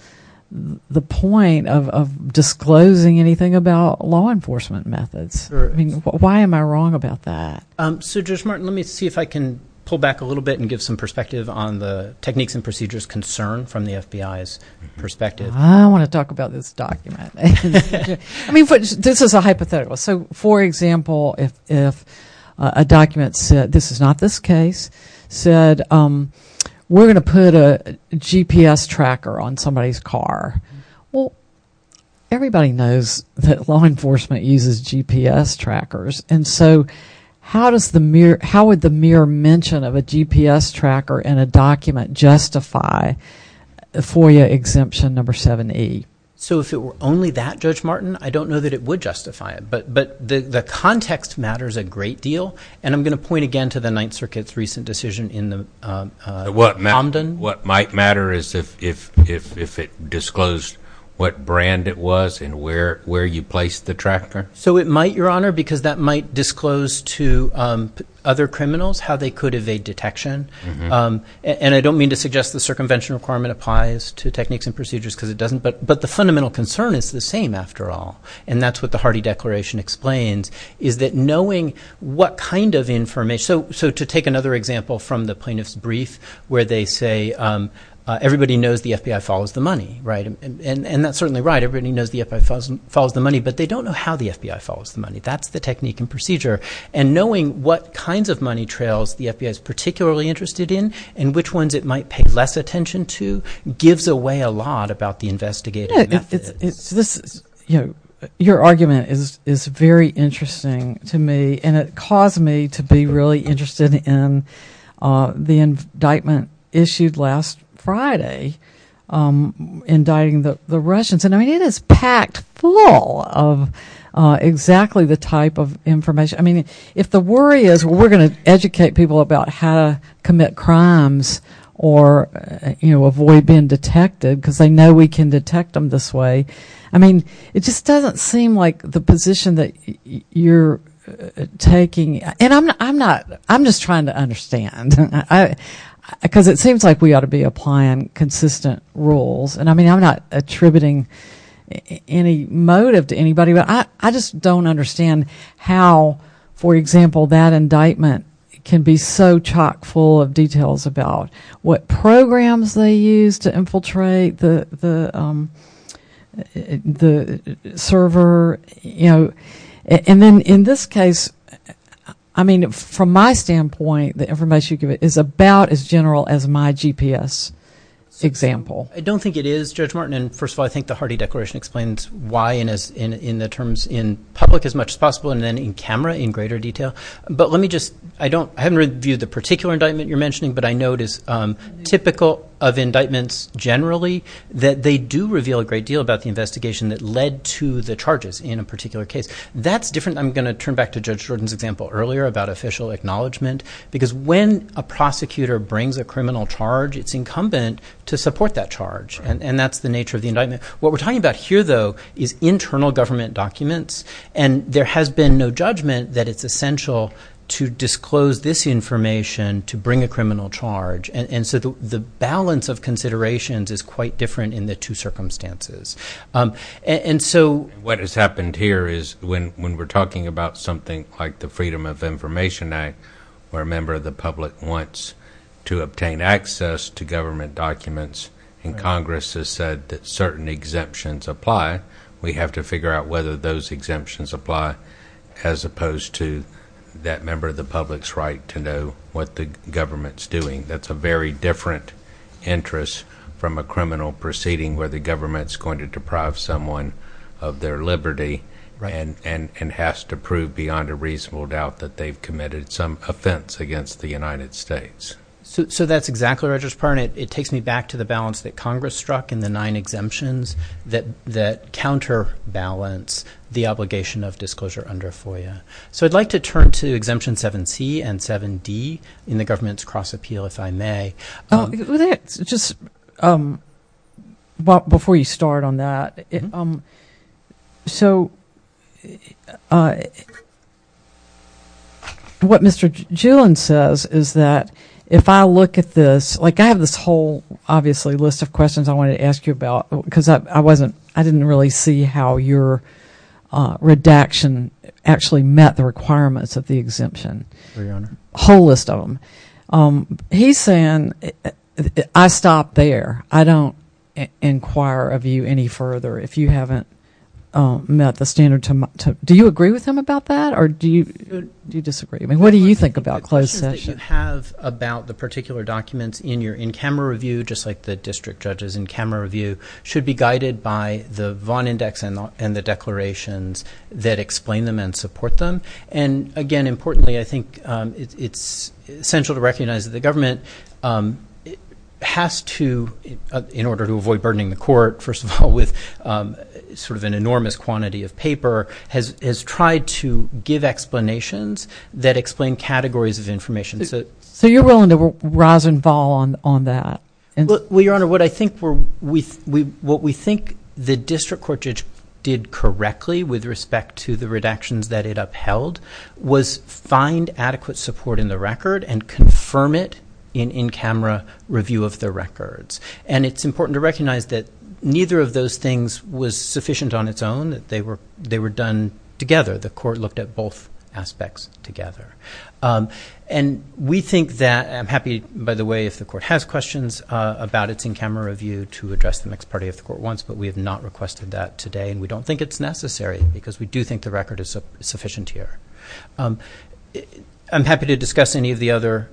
the point of disclosing anything about law enforcement methods. Why am I wrong about that? So, Judge Martin, let me see if I can pull back a little bit and give some perspective on the techniques and procedures concerned from the FBI's perspective. I don't want to talk about this document. I mean, this is a hypothetical. So, for example, if a document said, this is not this case, said, we're going to put a GPS tracker on somebody's car. Well, everybody knows that law enforcement uses GPS trackers. And so, how would the mere mention of a GPS tracker in a document justify a FOIA exemption number 7E? So, if it were only that, Judge Martin, I don't know that it would justify it. But the context matters a great deal, and I'm going to point again to the Ninth Circuit's recent decision in the Omden. What might matter is if it disclosed what brand it was and where you placed the tracker? So, it might, Your Honor, because that might disclose to other criminals how they could evade detection. And I don't mean to suggest the circumvention requirement applies to techniques and procedures because it doesn't. But the fundamental concern is the same after all. And that's what the Hardy Declaration explains, is that knowing what kind of information. So, to take another example from the plaintiff's brief where they say, everybody knows the FBI follows the money. And that's certainly right. Everybody knows the FBI follows the money, but they don't know how the FBI follows the money. That's the technique and procedure. And knowing what kinds of money trails the FBI is particularly interested in and which ones it might pay less attention to gives away a lot about the investigation. Your argument is very interesting to me, and it caused me to be really interested in the indictment issued last Friday indicting the Russians. And it is packed full of exactly the type of information. I mean, if the worry is we're going to educate people about how to commit crimes or, you know, avoid being detected because they know we can detect them this way. I mean, it just doesn't seem like the position that you're taking. And I'm not, I'm just trying to understand because it seems like we ought to be applying consistent rules. And I mean, I'm not attributing any motive to anybody, but I just don't understand how, for example, that indictment can be so chock full of details about what programs they use to infiltrate the server. You know, and then in this case, I mean, from my standpoint, the information you give is about as general as my GPS example. I don't think it is, Judge Martin. And first of all, I think the Hardy Declaration explains why in the terms in public as much as possible and then in camera in greater detail. But let me just I don't I haven't reviewed the particular indictment you're mentioning, but I know it is typical of indictments generally that they do reveal a great deal about the investigation that led to the charges in a particular case. That's different. I'm going to turn back to Judge Jordan's example earlier about official acknowledgement, because when a prosecutor brings a criminal charge, it's incumbent to support that charge. And that's the nature of the indictment. What we're talking about here, though, is internal government documents. And there has been no judgment that it's essential to disclose this information to bring a criminal charge. And so the balance of considerations is quite different in the two circumstances. And so what has happened here is when we're talking about something like the Freedom of Information Act, where a member of the public wants to obtain access to government documents and Congress has said that certain exemptions apply, we have to figure out whether those exemptions apply as opposed to that member of the public's right to know what the government's doing. That's a very different interest from a criminal proceeding where the government's going to deprive someone of their liberty and has to prove beyond a reasonable doubt that they've committed some offense against the United States. So that's exactly what I just pointed out. It takes me back to the balance that Congress struck in the nine exemptions that counterbalance the obligation of disclosure under FOIA. So I'd like to turn to Exemption 7C and 7D in the government's cross-appeal, if I may. Just before you start on that, so what Mr. Gillen says is that if I look at this, like I have this whole, obviously, list of questions I want to ask you about because I didn't really see how your redaction actually met the requirements of the exemption. He's saying, I stopped there. I don't inquire of you any further if you haven't met the standard. Do you agree with him about that or do you disagree? What do you think about closed session? Well, I think what you should have about the particular documents in your in-camera review, just like the district judge's in-camera review, should be guided by the Vaughn Index and the declarations that explain them and support them. And again, importantly, I think it's essential to recognize that the government has to, in order to avoid burdening the court, first of all, with sort of an enormous quantity of paper, has tried to give explanations that explain categories of information. So you're willing to rouse and fall on that? Well, Your Honor, what we think the district court judge did correctly with respect to the redactions that it upheld was find adequate support in the record and confirm it in in-camera review of the records. And it's important to recognize that neither of those things was sufficient on its own. They were done together. The court looked at both aspects together. And we think that, I'm happy, by the way, if the court has questions about its in-camera review to address the next party if the court wants, but we have not requested that today and we don't think it's necessary because we do think the record is sufficient here. I'm happy to discuss any of the other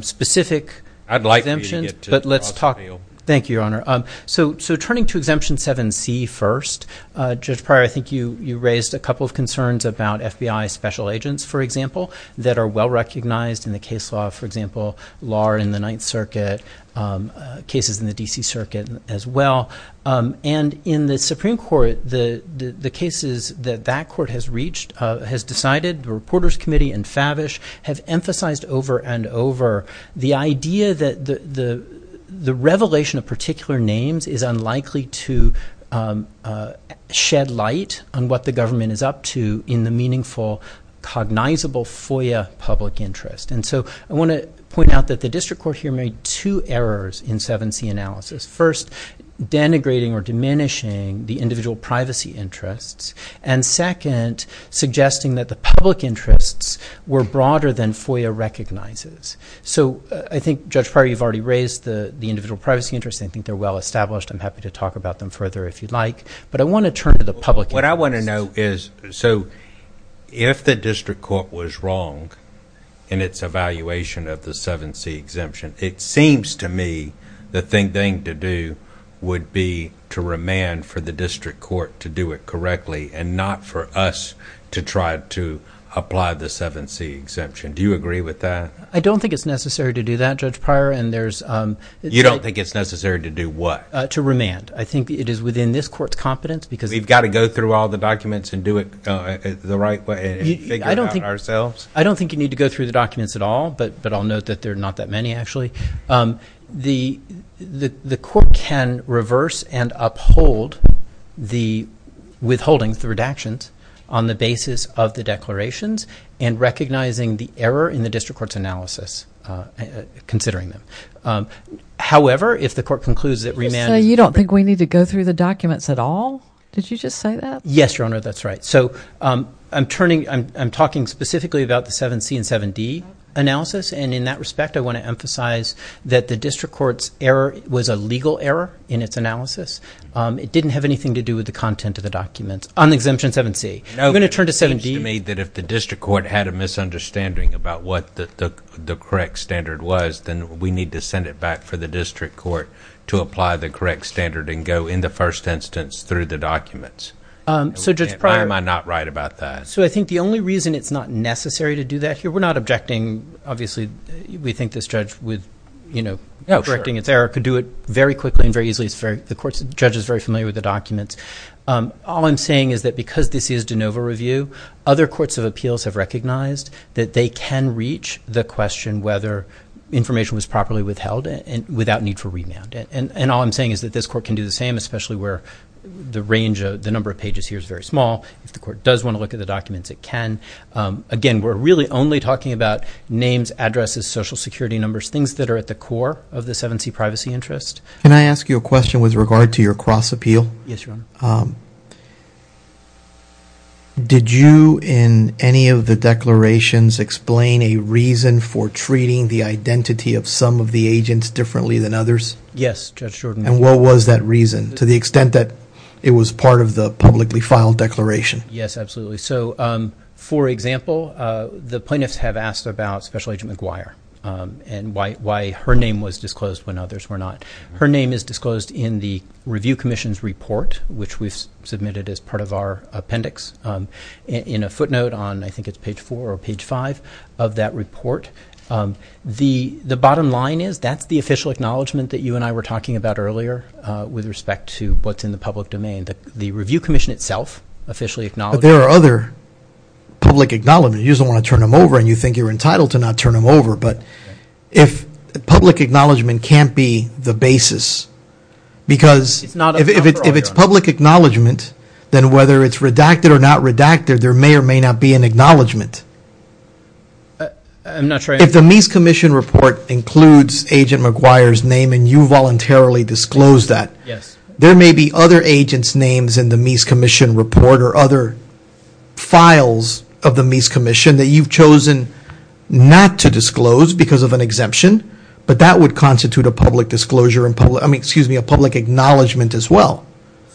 specific exemptions. I'd like you to get to it. Thank you, Your Honor. So turning to Exemption 7C first, Judge Pryor, I think you raised a couple of concerns about FBI special agents, for example, that are well-recognized in the case law, for example, law in the Ninth Circuit, cases in the D.C. Circuit as well. And in the Supreme Court, the cases that that court has reached, has decided, the Reporters Committee and Favish have emphasized over and over the idea that the revelation of particular names is unlikely to shed light on what the government is up to in the meaningful, cognizable FOIA public interest. And so I want to point out that the district court here made two errors in 7C analysis. First, denigrating or diminishing the individual privacy interests. And second, suggesting that the public interests were broader than FOIA recognizes. So I think, Judge Pryor, you've already raised the individual privacy interests. I think they're well-established. I'm happy to talk about them further if you'd like. But I want to turn to the public interest. So if the district court was wrong in its evaluation of the 7C exemption, it seems to me the thing to do would be to remand for the district court to do it correctly and not for us to try to apply the 7C exemption. Do you agree with that? I don't think it's necessary to do that, Judge Pryor. You don't think it's necessary to do what? To remand. I think it is within this court's competence because we've got to go through all the documents and do it the right way and figure it out ourselves. I don't think you need to go through the documents at all, but I'll note that there are not that many, actually. The court can reverse and uphold the withholding, the redactions, on the basis of the declarations and recognizing the error in the district court's analysis, considering them. However, if the court concludes that remanding. So you don't think we need to go through the documents at all? Did you just say that? Yes, Your Honor, that's right. So I'm talking specifically about the 7C and 7D analysis, and in that respect, I want to emphasize that the district court's error was a legal error in its analysis. It didn't have anything to do with the content of the document on Exemption 7C. I'm going to turn to 7D. You made that if the district court had a misunderstanding about what the correct standard was, then we need to send it back for the district court to apply the correct standard and go, in the first instance, through the documents. Why am I not right about that? So I think the only reason it's not necessary to do that here, we're not objecting. Obviously, we think this judge was, you know, correcting his error, could do it very quickly and very easily. Of course, the judge is very familiar with the documents. All I'm saying is that because this is de novo review, other courts of appeals have recognized that they can reach the question whether information was properly withheld without need for remand. And all I'm saying is that this court can do the same, especially where the range of the number of pages here is very small. If the court does want to look at the documents, it can. Again, we're really only talking about names, addresses, social security numbers, things that are at the core of the 7C privacy interest. Can I ask you a question with regard to your cross-appeal? Yes, Your Honor. Did you, in any of the declarations, explain a reason for treating the identity of some of the agents differently than others? Yes, Judge Jordan. And what was that reason, to the extent that it was part of the publicly filed declaration? Yes, absolutely. So, for example, the plaintiffs have asked about Special Agent McGuire and why her name was disclosed when others were not. Her name is disclosed in the Review Commission's report, which we've submitted as part of our appendix, in a footnote on, I think it's page 4 or page 5 of that report. The bottom line is that's the official acknowledgment that you and I were talking about earlier with respect to what's in the public domain. The Review Commission itself officially acknowledged that. But there are other public acknowledgments. You just don't want to turn them over, and you think you're entitled to not turn them over. But public acknowledgment can't be the basis, because if it's public acknowledgment, then whether it's redacted or not redacted, there may or may not be an acknowledgment. If the Mies Commission report includes Agent McGuire's name and you voluntarily disclose that, there may be other agents' names in the Mies Commission report or other files of the Mies Commission that you've chosen not to disclose because of an exemption. But that would constitute a public acknowledgment as well,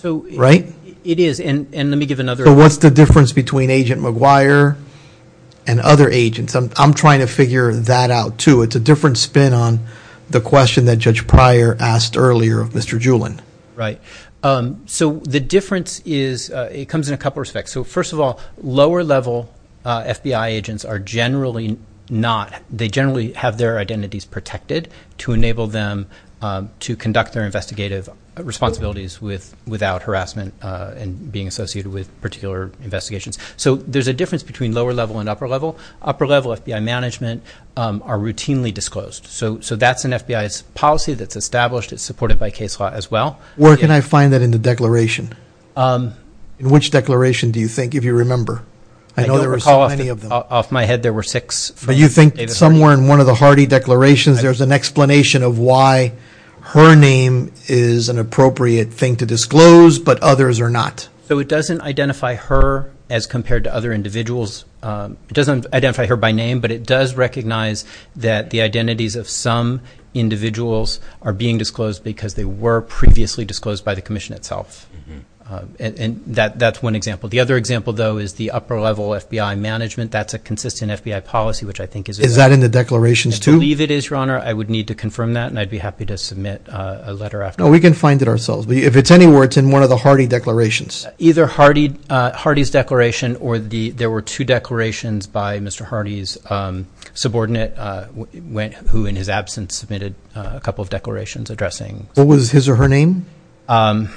right? It is, and let me give another example. So what's the difference between Agent McGuire and other agents? I'm trying to figure that out, too. It's a different spin on the question that Judge Pryor asked earlier, Mr. Julin. Right. So the difference comes in a couple respects. So, first of all, lower-level FBI agents are generally not – they generally have their identities protected to enable them to conduct their investigative responsibilities without harassment and being associated with particular investigations. So there's a difference between lower-level and upper-level. Upper-level FBI management are routinely disclosed. So that's an FBI policy that's established. It's supported by case law as well. Where can I find that in the declaration? In which declaration do you think, if you remember? I don't recall any of them. Off my head, there were six. But you think somewhere in one of the Hardy declarations, there's an explanation of why her name is an appropriate thing to disclose, but others are not. So it doesn't identify her as compared to other individuals. It doesn't identify her by name, but it does recognize that the identities of some individuals are being disclosed because they were previously disclosed by the commission itself. And that's one example. The other example, though, is the upper-level FBI management. That's a consistent FBI policy, which I think is – Is that in the declarations too? I believe it is, Your Honor. I would need to confirm that, and I'd be happy to submit a letter after. No, we can find it ourselves. If it's anywhere, it's in one of the Hardy declarations. Either Hardy's declaration or there were two declarations by Mr. Hardy's subordinate, who in his absence submitted a couple of declarations addressing – What was his or her name? I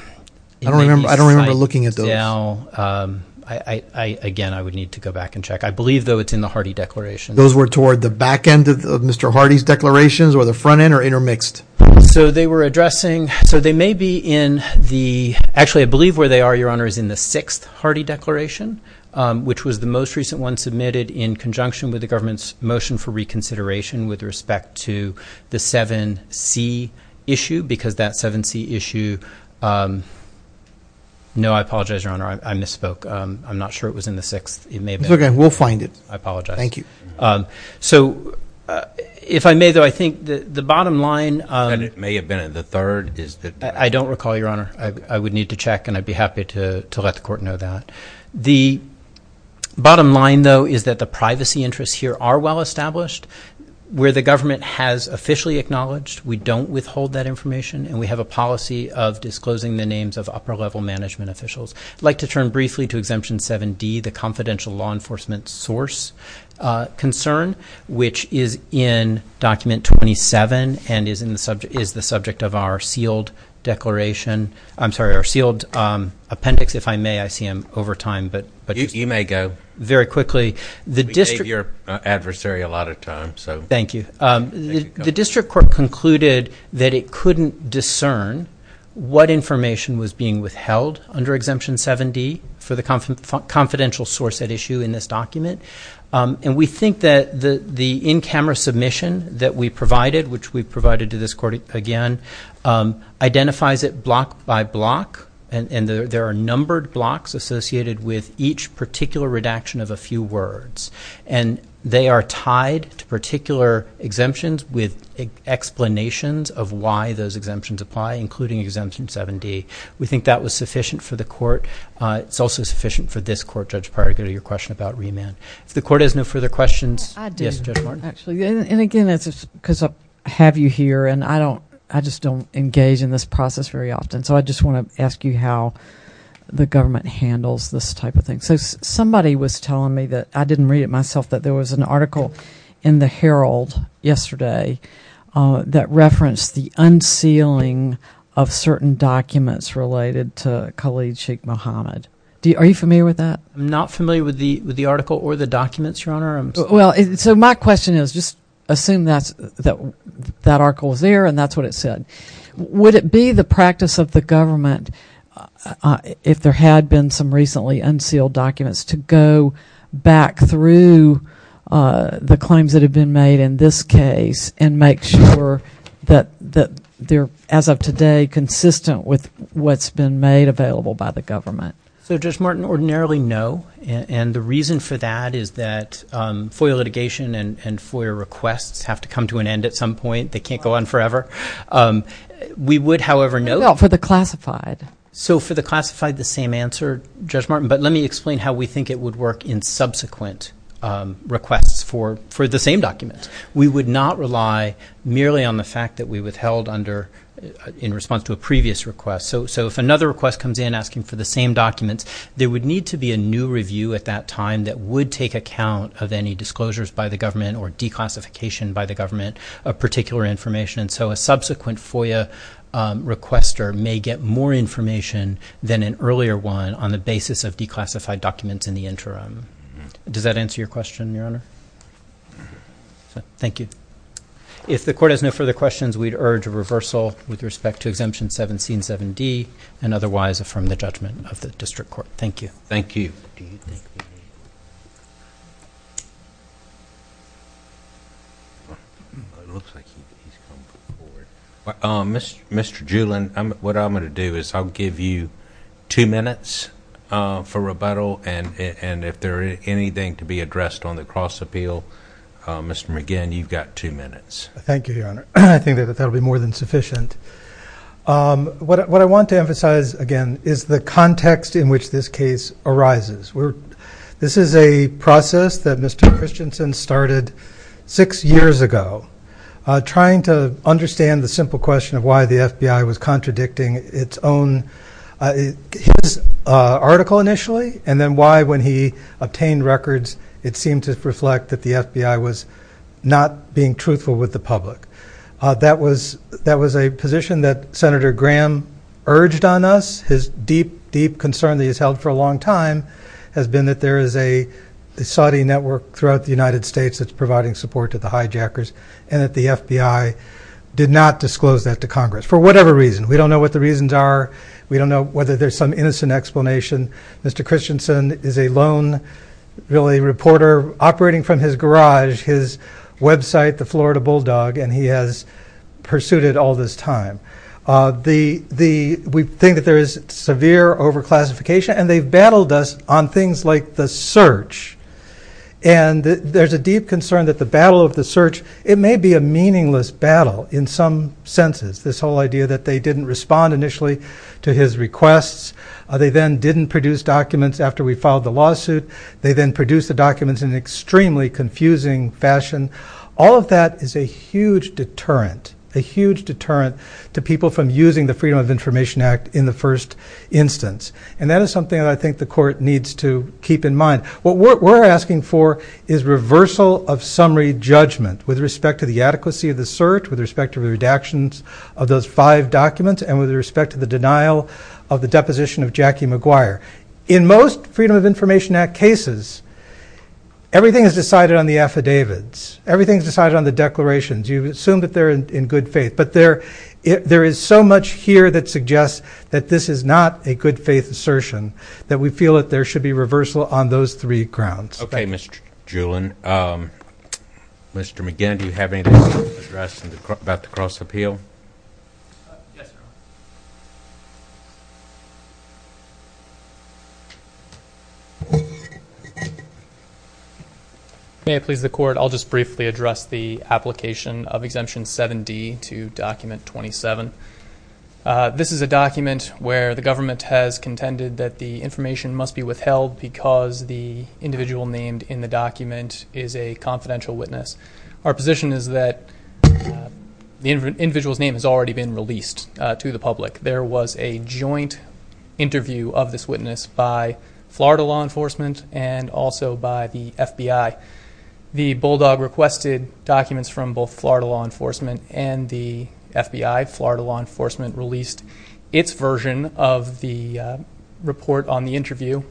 don't remember looking at those. Again, I would need to go back and check. I believe, though, it's in the Hardy declaration. Those were toward the back end of Mr. Hardy's declarations or the front end or intermixed? So they were addressing – so they may be in the – actually, I believe where they are, Your Honor, is in the sixth Hardy declaration, which was the most recent one submitted in conjunction with the government's motion for reconsideration with respect to the 7C issue because that 7C issue – No, I apologize, Your Honor. I misspoke. I'm not sure it was in the sixth. It may have been. It's okay. We'll find it. I apologize. Thank you. So if I may, though, I think the bottom line – It may have been in the third. I don't recall, Your Honor. I would need to check, and I'd be happy to let the court know that. The bottom line, though, is that the privacy interests here are well established. Where the government has officially acknowledged, we don't withhold that information, and we have a policy of disclosing the names of upper-level management officials. I'd like to turn briefly to Exemption 7D, the confidential law enforcement source concern, which is in Document 27 and is the subject of our sealed declaration – I'm sorry, our sealed appendix, if I may. I see I'm over time, but – You may go. Very quickly. We gave your adversary a lot of time, so – Thank you. The district court concluded that it couldn't discern what information was being withheld under Exemption 7D for the confidential source at issue in this document, and we think that the in-camera submission that we provided, which we provided to this court again, identifies it block by block, and there are numbered blocks associated with each particular redaction of a few words, and they are tied to particular exemptions with explanations of why those exemptions apply, including Exemption 7D. We think that was sufficient for the court. It's also sufficient for this court, Judge Paragula, your question about remand. If the court has no further questions – I do. And again, because I have you here, and I just don't engage in this process very often, so I just want to ask you how the government handles this type of thing. So somebody was telling me that – I didn't read it myself – that there was an article in the Herald yesterday that referenced the unsealing of certain documents related to Khalid Sheikh Mohamed. Are you familiar with that? I'm not familiar with the article or the documents, Your Honor. Well, so my question is, just assume that article is there and that's what it said. Would it be the practice of the government, if there had been some recently unsealed documents, to go back through the claims that have been made in this case and make sure that they're, as of today, consistent with what's been made available by the government? So, Judge Martin, ordinarily no, and the reason for that is that FOIA litigation and FOIA requests have to come to an end at some point. They can't go on forever. We would, however, know – Well, for the classified. So for the classified, the same answer, Judge Martin, but let me explain how we think it would work in subsequent requests for the same documents. We would not rely merely on the fact that we withheld in response to a previous request. So if another request comes in asking for the same documents, there would need to be a new review at that time that would take account of any disclosures by the government or declassification by the government of particular information. So a subsequent FOIA requester may get more information than an earlier one on the basis of declassified documents in the interim. Does that answer your question, Your Honor? Thank you. If the Court has no further questions, we'd urge a reversal with respect to Exemption 177D and otherwise affirm the judgment of the District Court. Thank you. Thank you. Mr. Julin, what I'm going to do is I'll give you two minutes for rebuttal, and if there is anything to be addressed on the cross-appeal, Mr. McGinn, you've got two minutes. Thank you, Your Honor. I think that will be more than sufficient. What I want to emphasize, again, is the context in which this case arises. This is a process that Mr. Christensen started six years ago, trying to understand the simple question of why the FBI was contradicting its own article initially, and then why, when he obtained records, it seemed to reflect that the FBI was not being truthful with the public. That was a position that Senator Graham urged on us. His deep, deep concern that he's held for a long time has been that there is a Saudi network throughout the United States that's providing support to the hijackers, and that the FBI did not disclose that to Congress for whatever reason. We don't know what the reasons are. We don't know whether there's some innocent explanation. Mr. Christensen is a lone, really, reporter operating from his garage, his website, the Florida Bulldog, and he has pursued it all this time. We think that there is severe over-classification, and they've battled us on things like the search, and there's a deep concern that the battle of the search, it may be a meaningless battle in some senses, this whole idea that they didn't respond initially to his requests. They then didn't produce documents after we filed the lawsuit. They then produced the documents in an extremely confusing fashion. All of that is a huge deterrent, a huge deterrent to people from using the Freedom of Information Act in the first instance, and that is something that I think the court needs to keep in mind. What we're asking for is reversal of summary judgment with respect to the adequacy of the search, with respect to the redactions of those five documents, and with respect to the denial of the deposition of Jackie McGuire. In most Freedom of Information Act cases, everything is decided on the affidavits. Everything is decided on the declarations. You assume that they're in good faith, but there is so much here that suggests that this is not a good faith assertion, that we feel that there should be reversal on those three grounds. Okay, Mr. Julian. Mr. McGinn, do you have anything to address about the cross-appeal? May it please the Court, I'll just briefly address the application of Exemption 7D to Document 27. This is a document where the government has contended that the information must be withheld because the individual named in the document is a confidential witness. Our position is that the individual's name has already been released to the public. There was a joint interview of this witness by Florida law enforcement and also by the FBI. The Bulldog requested documents from both Florida law enforcement and the FBI. Florida law enforcement released its version of the report on the interview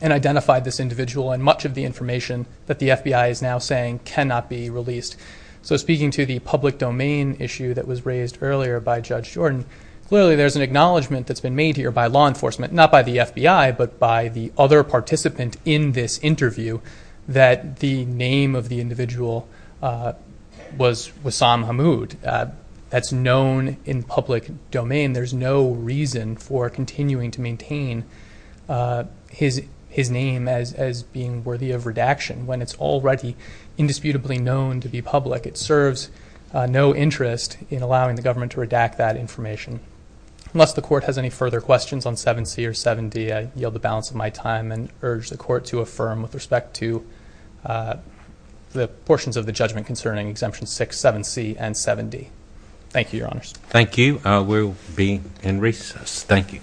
and identified this individual and much of the information that the FBI is now saying cannot be released. So speaking to the public domain issue that was raised earlier by Judge Jordan, clearly there's an acknowledgement that's been made here by law enforcement, not by the FBI, but by the other participant in this interview that the name of the individual was Wassam Hammoud. That's known in public domain. There's no reason for continuing to maintain his name as being worthy of redaction when it's already indisputably known to the public. It serves no interest in allowing the government to redact that information. Unless the Court has any further questions on 7C or 7D, I yield the balance of my time and urge the Court to affirm with respect to the portions of the judgment concerning Exemption 6, 7C, and 7D. Thank you, Your Honors. Thank you. We'll be in recess. Thank you. Thank you, Your Honors.